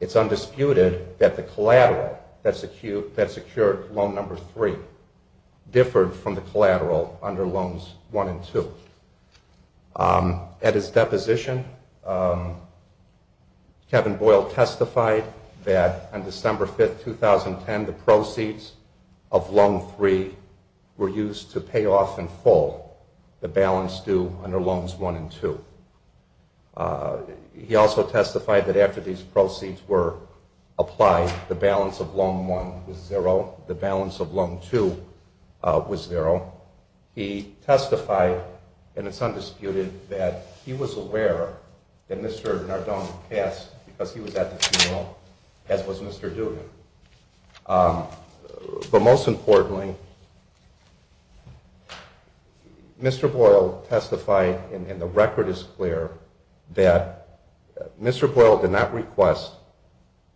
It's undisputed that the collateral that secured loan number three differed from the collateral under loans one and two. At his deposition, Kevin Boyle testified that on December 5, 2010, the proceeds of loan three were used to pay off in full the balance due under loans one and two. He also testified that after these proceeds were applied, the balance of loan one was zero, the balance of loan two was zero. He testified, and it's undisputed, that he was aware that Mr. Nardone passed because he was at the funeral, as was Mr. Dugan. But most importantly, Mr. Boyle testified, and the record is clear, that Mr. Boyle did not request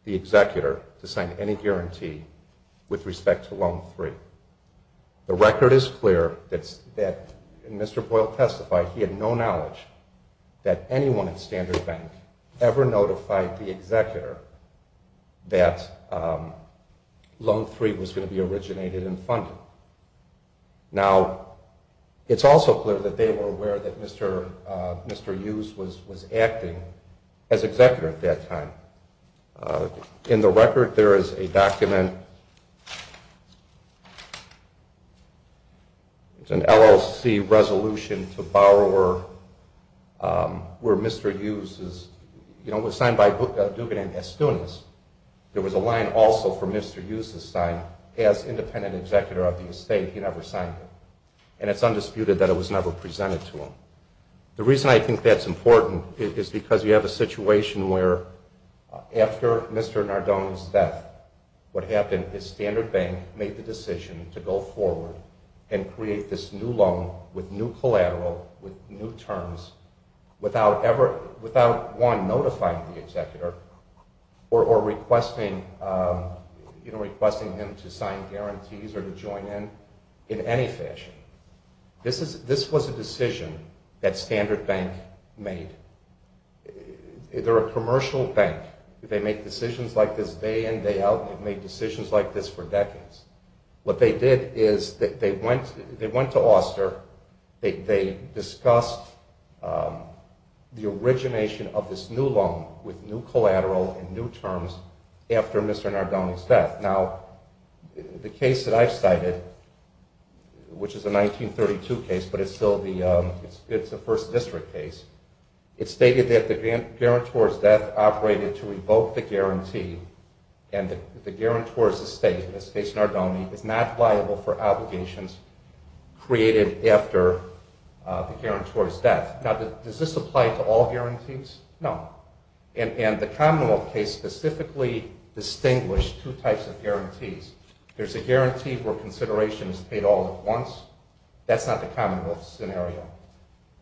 the executor to sign any guarantee with respect to loan three. The record is clear that Mr. Boyle testified he had no knowledge that anyone at Standard Bank ever notified the executor that loan three was going to be originated and funded. Now, it's also clear that they were aware that Mr. Hughes was acting as executor at that time. In the record, there is a document. It's an LLC resolution to borrower where Mr. Hughes was signed by Dugan and Estones. There was a line also for Mr. Hughes to sign as independent executor of the estate. He never signed it, and it's undisputed that it was never presented to him. The reason I think that's important is because you have a situation where after Mr. Nardone's death, what happened is Standard Bank made the decision to go forward and create this new loan with new collateral, with new terms, without one notifying the executor or requesting him to sign guarantees or to join in, in any fashion. This was a decision that Standard Bank made. They're a commercial bank. They make decisions like this day in, day out, and they've made decisions like this for decades. What they did is they went to Auster, they discussed the origination of this new loan with new collateral and new terms after Mr. Nardone's death. Now, the case that I've cited, which is a 1932 case, but it's still the first district case, it stated that the guarantor's death operated to revoke the guarantee, and the guarantor's estate, the estate of Nardone, is not liable for obligations created after the guarantor's death. Now, does this apply to all guarantees? No. And the commonwealth case specifically distinguished two types of guarantees. There's a guarantee where consideration is paid all at once. That's not the commonwealth scenario.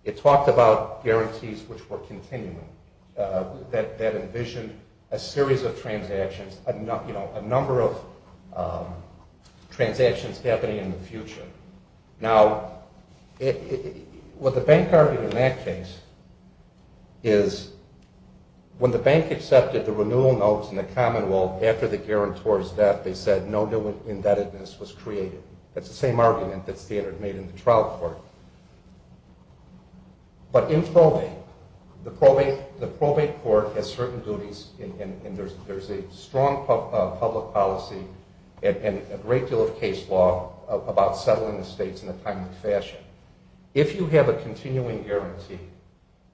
It talked about guarantees which were continuing, that envisioned a series of transactions, a number of transactions happening in the future. Now, what the bank argued in that case is when the bank accepted the renewal notes in the commonwealth after the guarantor's death, they said no new indebtedness was created. That's the same argument that's made in the trial court. But in probate, the probate court has certain duties, and there's a strong public policy and a great deal of case law about settling estates in a timely fashion. If you have a continuing guarantee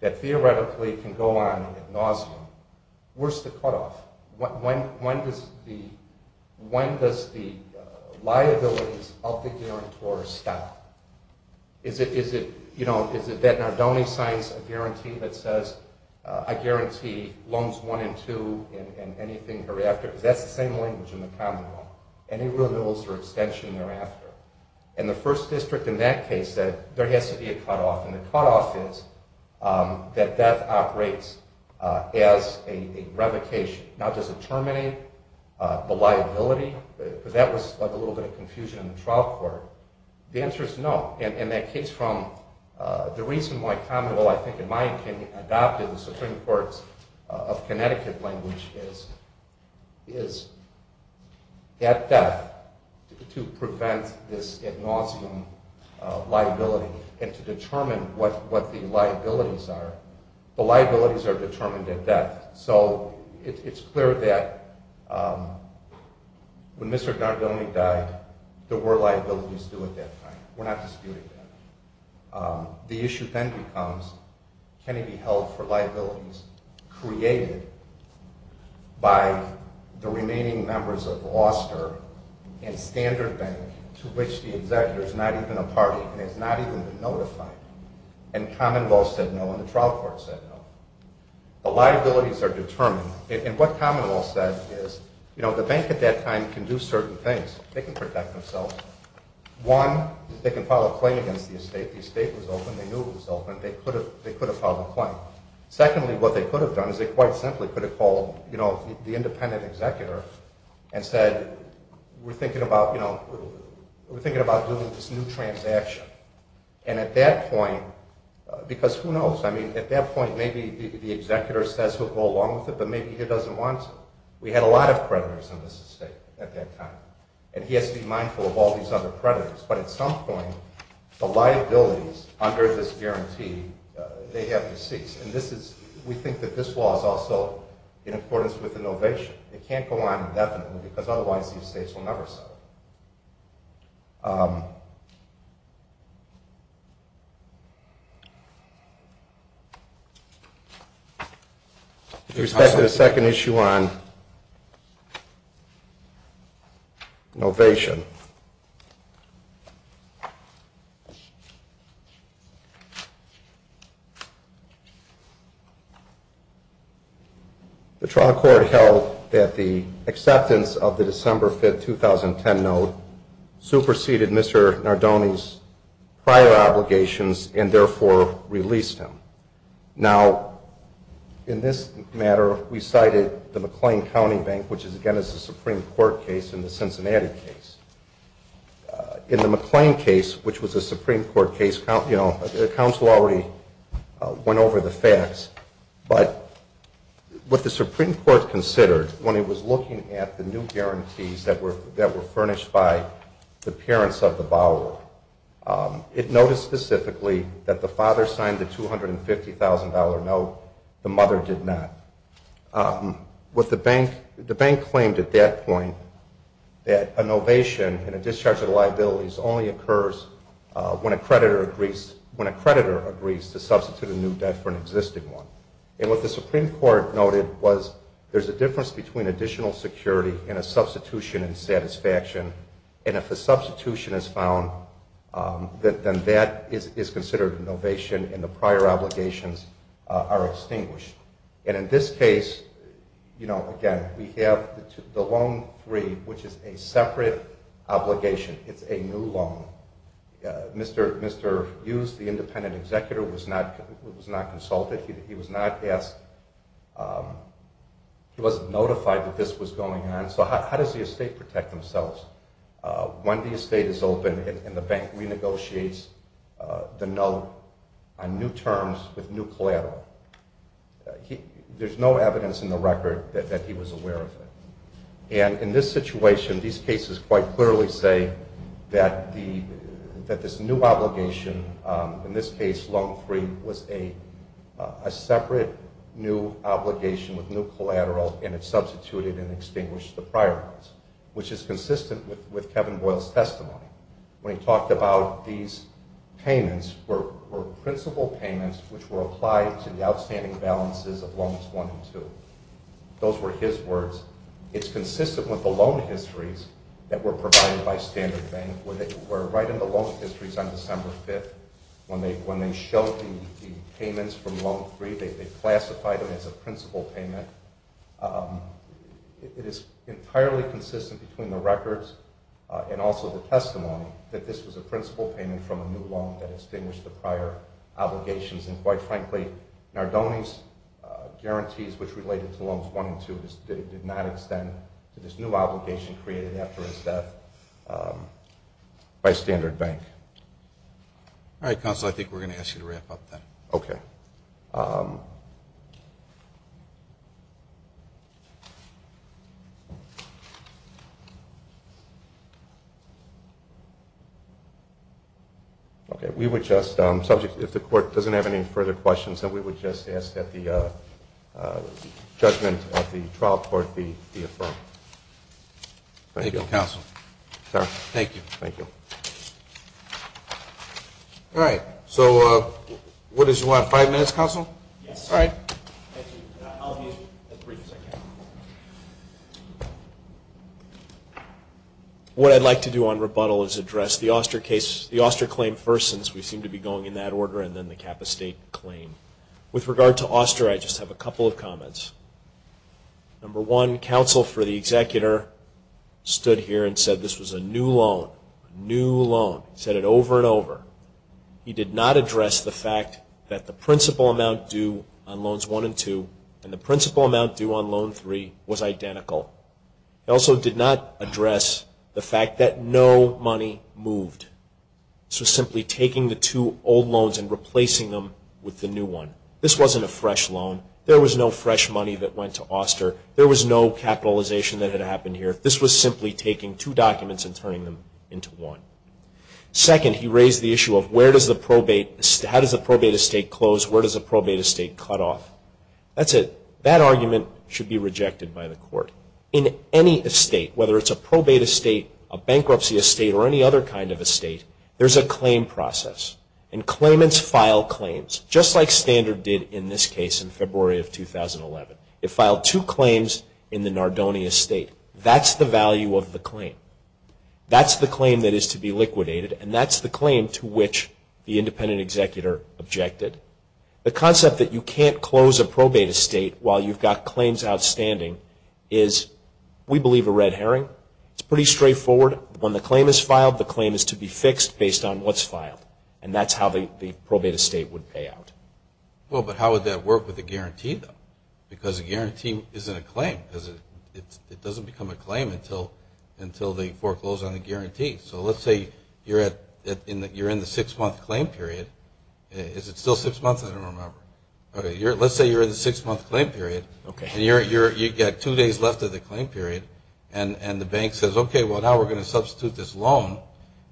that theoretically can go on ad nauseum, where's the cutoff? When does the liabilities of the guarantor stop? Is it that Nardone signs a guarantee that says, I guarantee loans one and two and anything thereafter? That's the same language in the commonwealth. Any renewals or extension thereafter. In the first district in that case, there has to be a cutoff, and the cutoff is that death operates as a revocation. Now, does it terminate the liability? That was a little bit of confusion in the trial court. The answer is no. The reason why commonwealth, I think in my opinion, adopted the Supreme Court's of Connecticut language is at death to prevent this ad nauseum liability and to determine what the liabilities are. The liabilities are determined at death. So it's clear that when Mr. Nardone died, there were liabilities due at that time. We're not disputing that. The issue then becomes, can he be held for liabilities created by the remaining members and standard bank to which the executor is not even a party and has not even been notified? And commonwealth said no and the trial court said no. The liabilities are determined. And what commonwealth said is, you know, the bank at that time can do certain things. They can protect themselves. One, they can file a claim against the estate. The estate was open. They knew it was open. They could have filed a claim. the independent executor and said, we're thinking about, you know, we're thinking about doing this new transaction. And at that point, because who knows? I mean, at that point, maybe the executor says we'll go along with it, but maybe he doesn't want to. We had a lot of predators in this estate at that time. And he has to be mindful of all these other predators. But at some point, the liabilities under this guarantee, they have to cease. We think that this law is also in accordance with the novation. It can't go on indefinitely because otherwise these states will never settle. With respect to the second issue on novation. The trial court held that the acceptance of the December 5, 2010 note superseded Mr. Nardone's prior obligations and therefore released him. Now, in this matter, we cited the McLean County Bank, which again is a Supreme Court case and the Cincinnati case. In the McLean case, which was a Supreme Court case, you know, the counsel already went over the facts. But what the Supreme Court considered when it was looking at the new guarantees that were furnished by the parents of the borrower, it noticed specifically that the father signed the $250,000 note. The mother did not. The bank claimed at that point that a novation and a discharge of liabilities only occurs when a creditor agrees to substitute a new debt for an existing one. And what the Supreme Court noted was there's a difference between additional security and a substitution in satisfaction. And if a substitution is found, then that is considered a novation and the prior obligations are extinguished. And in this case, you know, again, we have the loan three, which is a separate obligation. It's a new loan. Mr. Hughes, the independent executor, was not consulted. He was not asked. He wasn't notified that this was going on. So how does the estate protect themselves when the estate is open and the bank renegotiates the note on new terms with new collateral? There's no evidence in the record that he was aware of it. And in this situation, these cases quite clearly say that this new obligation, in this case loan three, was a separate new obligation with new collateral and it substituted and extinguished the prior ones, which is consistent with Kevin Boyle's testimony. When he talked about these payments were principal payments which were applied to the outstanding balances of loans one and two. Those were his words. It's consistent with the loan histories that were provided by Standard Bank. They were right in the loan histories on December 5th. When they showed the payments from loan three, they classified them as a principal payment. It is entirely consistent between the records and also the testimony that this was a principal payment from a new loan that extinguished the prior obligations. And quite frankly, Nardone's guarantees which related to loans one and two did not extend to this new obligation created after his death by Standard Bank. All right, counsel, I think we're going to ask you to wrap up then. Okay. Okay, we would just, if the court doesn't have any further questions, then we would just ask that the judgment of the trial court be affirmed. Thank you, counsel. Thank you. Thank you. All right. So what is it, five minutes, counsel? Yes. All right. I'll be as brief as I can. What I'd like to do on rebuttal is address the Auster claim first since we seem to be going in that order and then the Kappa State claim. With regard to Auster, I just have a couple of comments. Number one, counsel for the executor stood here and said this was a new loan, a new loan. He said it over and over. He did not address the fact that the principal amount due on loans one and two and the principal amount due on loan three was identical. He also did not address the fact that no money moved. This was simply taking the two old loans and replacing them with the new one. This wasn't a fresh loan. There was no fresh money that went to Auster. There was no capitalization that had happened here. This was simply taking two documents and turning them into one. Second, he raised the issue of where does the probate estate close, where does the probate estate cut off. That's it. That argument should be rejected by the court. In any estate, whether it's a probate estate, a bankruptcy estate, or any other kind of estate, there's a claim process. And claimants file claims just like Standard did in this case in February of 2011. It filed two claims in the Nardoni estate. That's the value of the claim. That's the claim that is to be liquidated, and that's the claim to which the independent executor objected. The concept that you can't close a probate estate while you've got claims outstanding is, we believe, a red herring. It's pretty straightforward. When the claim is filed, the claim is to be fixed based on what's filed, and that's how the probate estate would pay out. Well, but how would that work with a guarantee, though? Because a guarantee isn't a claim. It doesn't become a claim until they foreclose on a guarantee. So let's say you're in the six-month claim period. Is it still six months? I don't remember. Let's say you're in the six-month claim period, and you've got two days left of the claim period, and the bank says, okay, well, now we're going to substitute this loan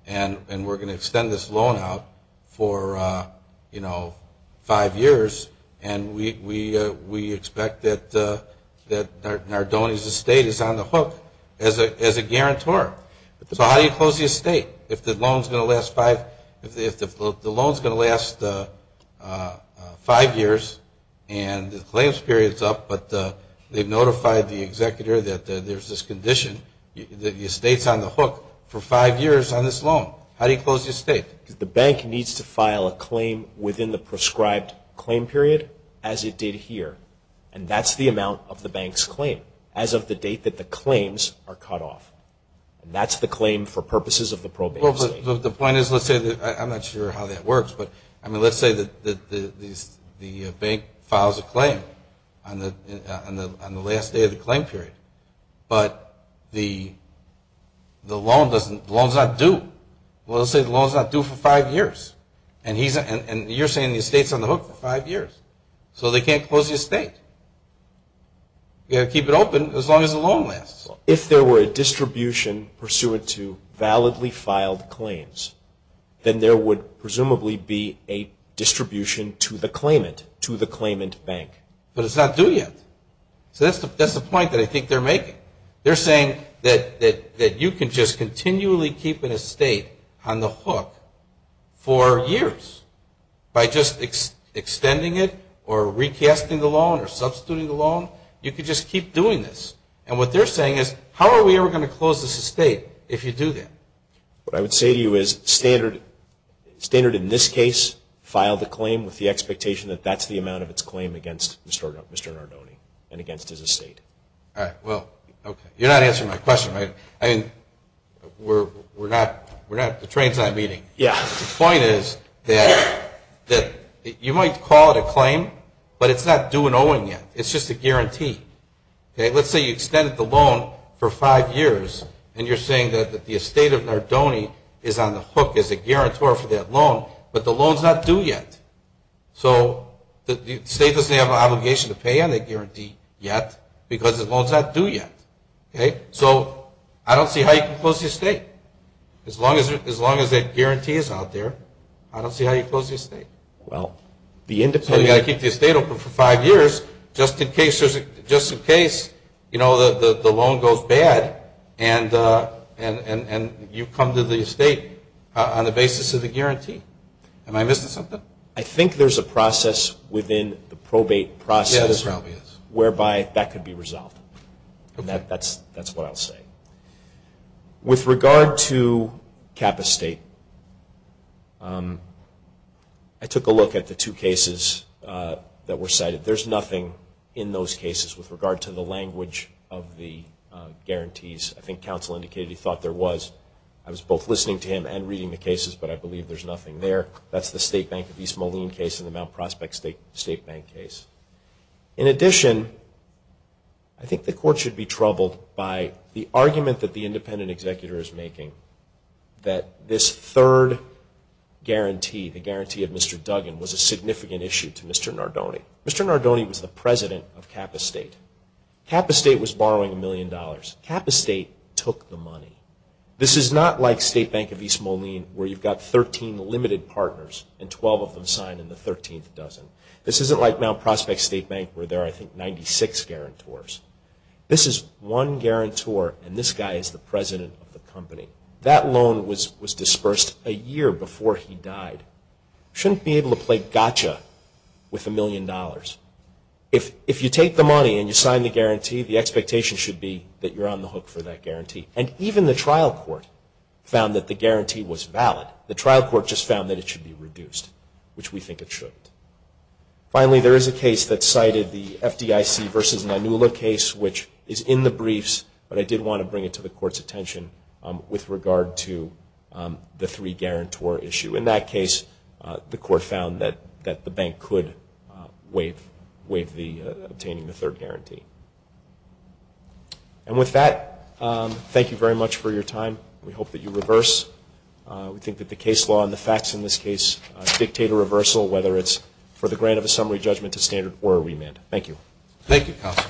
and we're going to extend this loan out for, you know, five years, and we expect that Nardoni's estate is on the hook as a guarantor. So how do you close the estate if the loan is going to last five years and the claims period is up, but they've notified the executor that there's this condition, that the estate is on the hook for five years on this loan. How do you close the estate? The bank needs to file a claim within the prescribed claim period as it did here, and that's the amount of the bank's claim as of the date that the claims are cut off. That's the claim for purposes of the probate estate. The point is, let's say that the bank files a claim on the last day of the claim period, but the loan is not due. Well, let's say the loan is not due for five years, and you're saying the estate is on the hook for five years. So they can't close the estate. You've got to keep it open as long as the loan lasts. If there were a distribution pursuant to validly filed claims, then there would presumably be a distribution to the claimant, to the claimant bank. But it's not due yet. So that's the point that I think they're making. They're saying that you can just continually keep an estate on the hook for years by just extending it or recasting the loan or substituting the loan. You can just keep doing this. And what they're saying is, how are we ever going to close this estate if you do that? What I would say to you is, standard in this case, file the claim with the expectation that that's the amount of its claim against Mr. Nardone and against his estate. All right. Well, okay. You're not answering my question, right? I mean, we're not – the train's not meeting. Yeah. The point is that you might call it a claim, but it's not due an owing yet. It's just a guarantee. Okay? Let's say you extended the loan for five years, and you're saying that the estate of Nardone is on the hook as a guarantor for that loan, but the loan's not due yet. So the state doesn't have an obligation to pay on that guarantee yet because the loan's not due yet. Okay? So I don't see how you can close the estate. As long as that guarantee is out there, I don't see how you close the estate. Well, the independent – So you've got to keep the estate open for five years just in case the loan goes bad and you come to the estate on the basis of the guarantee. Am I missing something? I think there's a process within the probate process whereby that could be resolved. That's what I'll say. With regard to Kappa State, I took a look at the two cases that were cited. There's nothing in those cases with regard to the language of the guarantees. I think counsel indicated he thought there was. I was both listening to him and reading the cases, but I believe there's nothing there. That's the State Bank of East Moline case and the Mount Prospect State Bank case. In addition, I think the court should be troubled by the argument that the independent executor is making that this third guarantee, the guarantee of Mr. Duggan, was a significant issue to Mr. Nardone. Mr. Nardone was the president of Kappa State. Kappa State was borrowing $1 million. Kappa State took the money. This is not like State Bank of East Moline where you've got 13 limited partners and 12 of them signed in the 13th dozen. This isn't like Mount Prospect State Bank where there are, I think, 96 guarantors. This is one guarantor, and this guy is the president of the company. That loan was dispersed a year before he died. You shouldn't be able to play gotcha with $1 million. If you take the money and you sign the guarantee, the expectation should be that you're on the hook for that guarantee. And even the trial court found that the guarantee was valid. The trial court just found that it should be reduced, which we think it should. Finally, there is a case that cited the FDIC versus Manula case, which is in the briefs, but I did want to bring it to the court's attention with regard to the three-guarantor issue. In that case, the court found that the bank could waive obtaining the third guarantee. And with that, thank you very much for your time. We hope that you reverse. We think that the case law and the facts in this case dictate a reversal, whether it's for the grant of a summary judgment to standard or a remand. Thank you. Thank you, Counsel.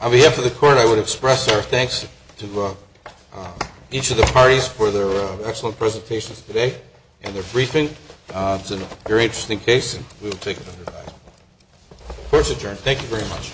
On behalf of the court, I would express our thanks to each of the parties for their excellent presentations today and their briefing. It's a very interesting case, and we will take it under advisement. Court is adjourned. Thank you very much.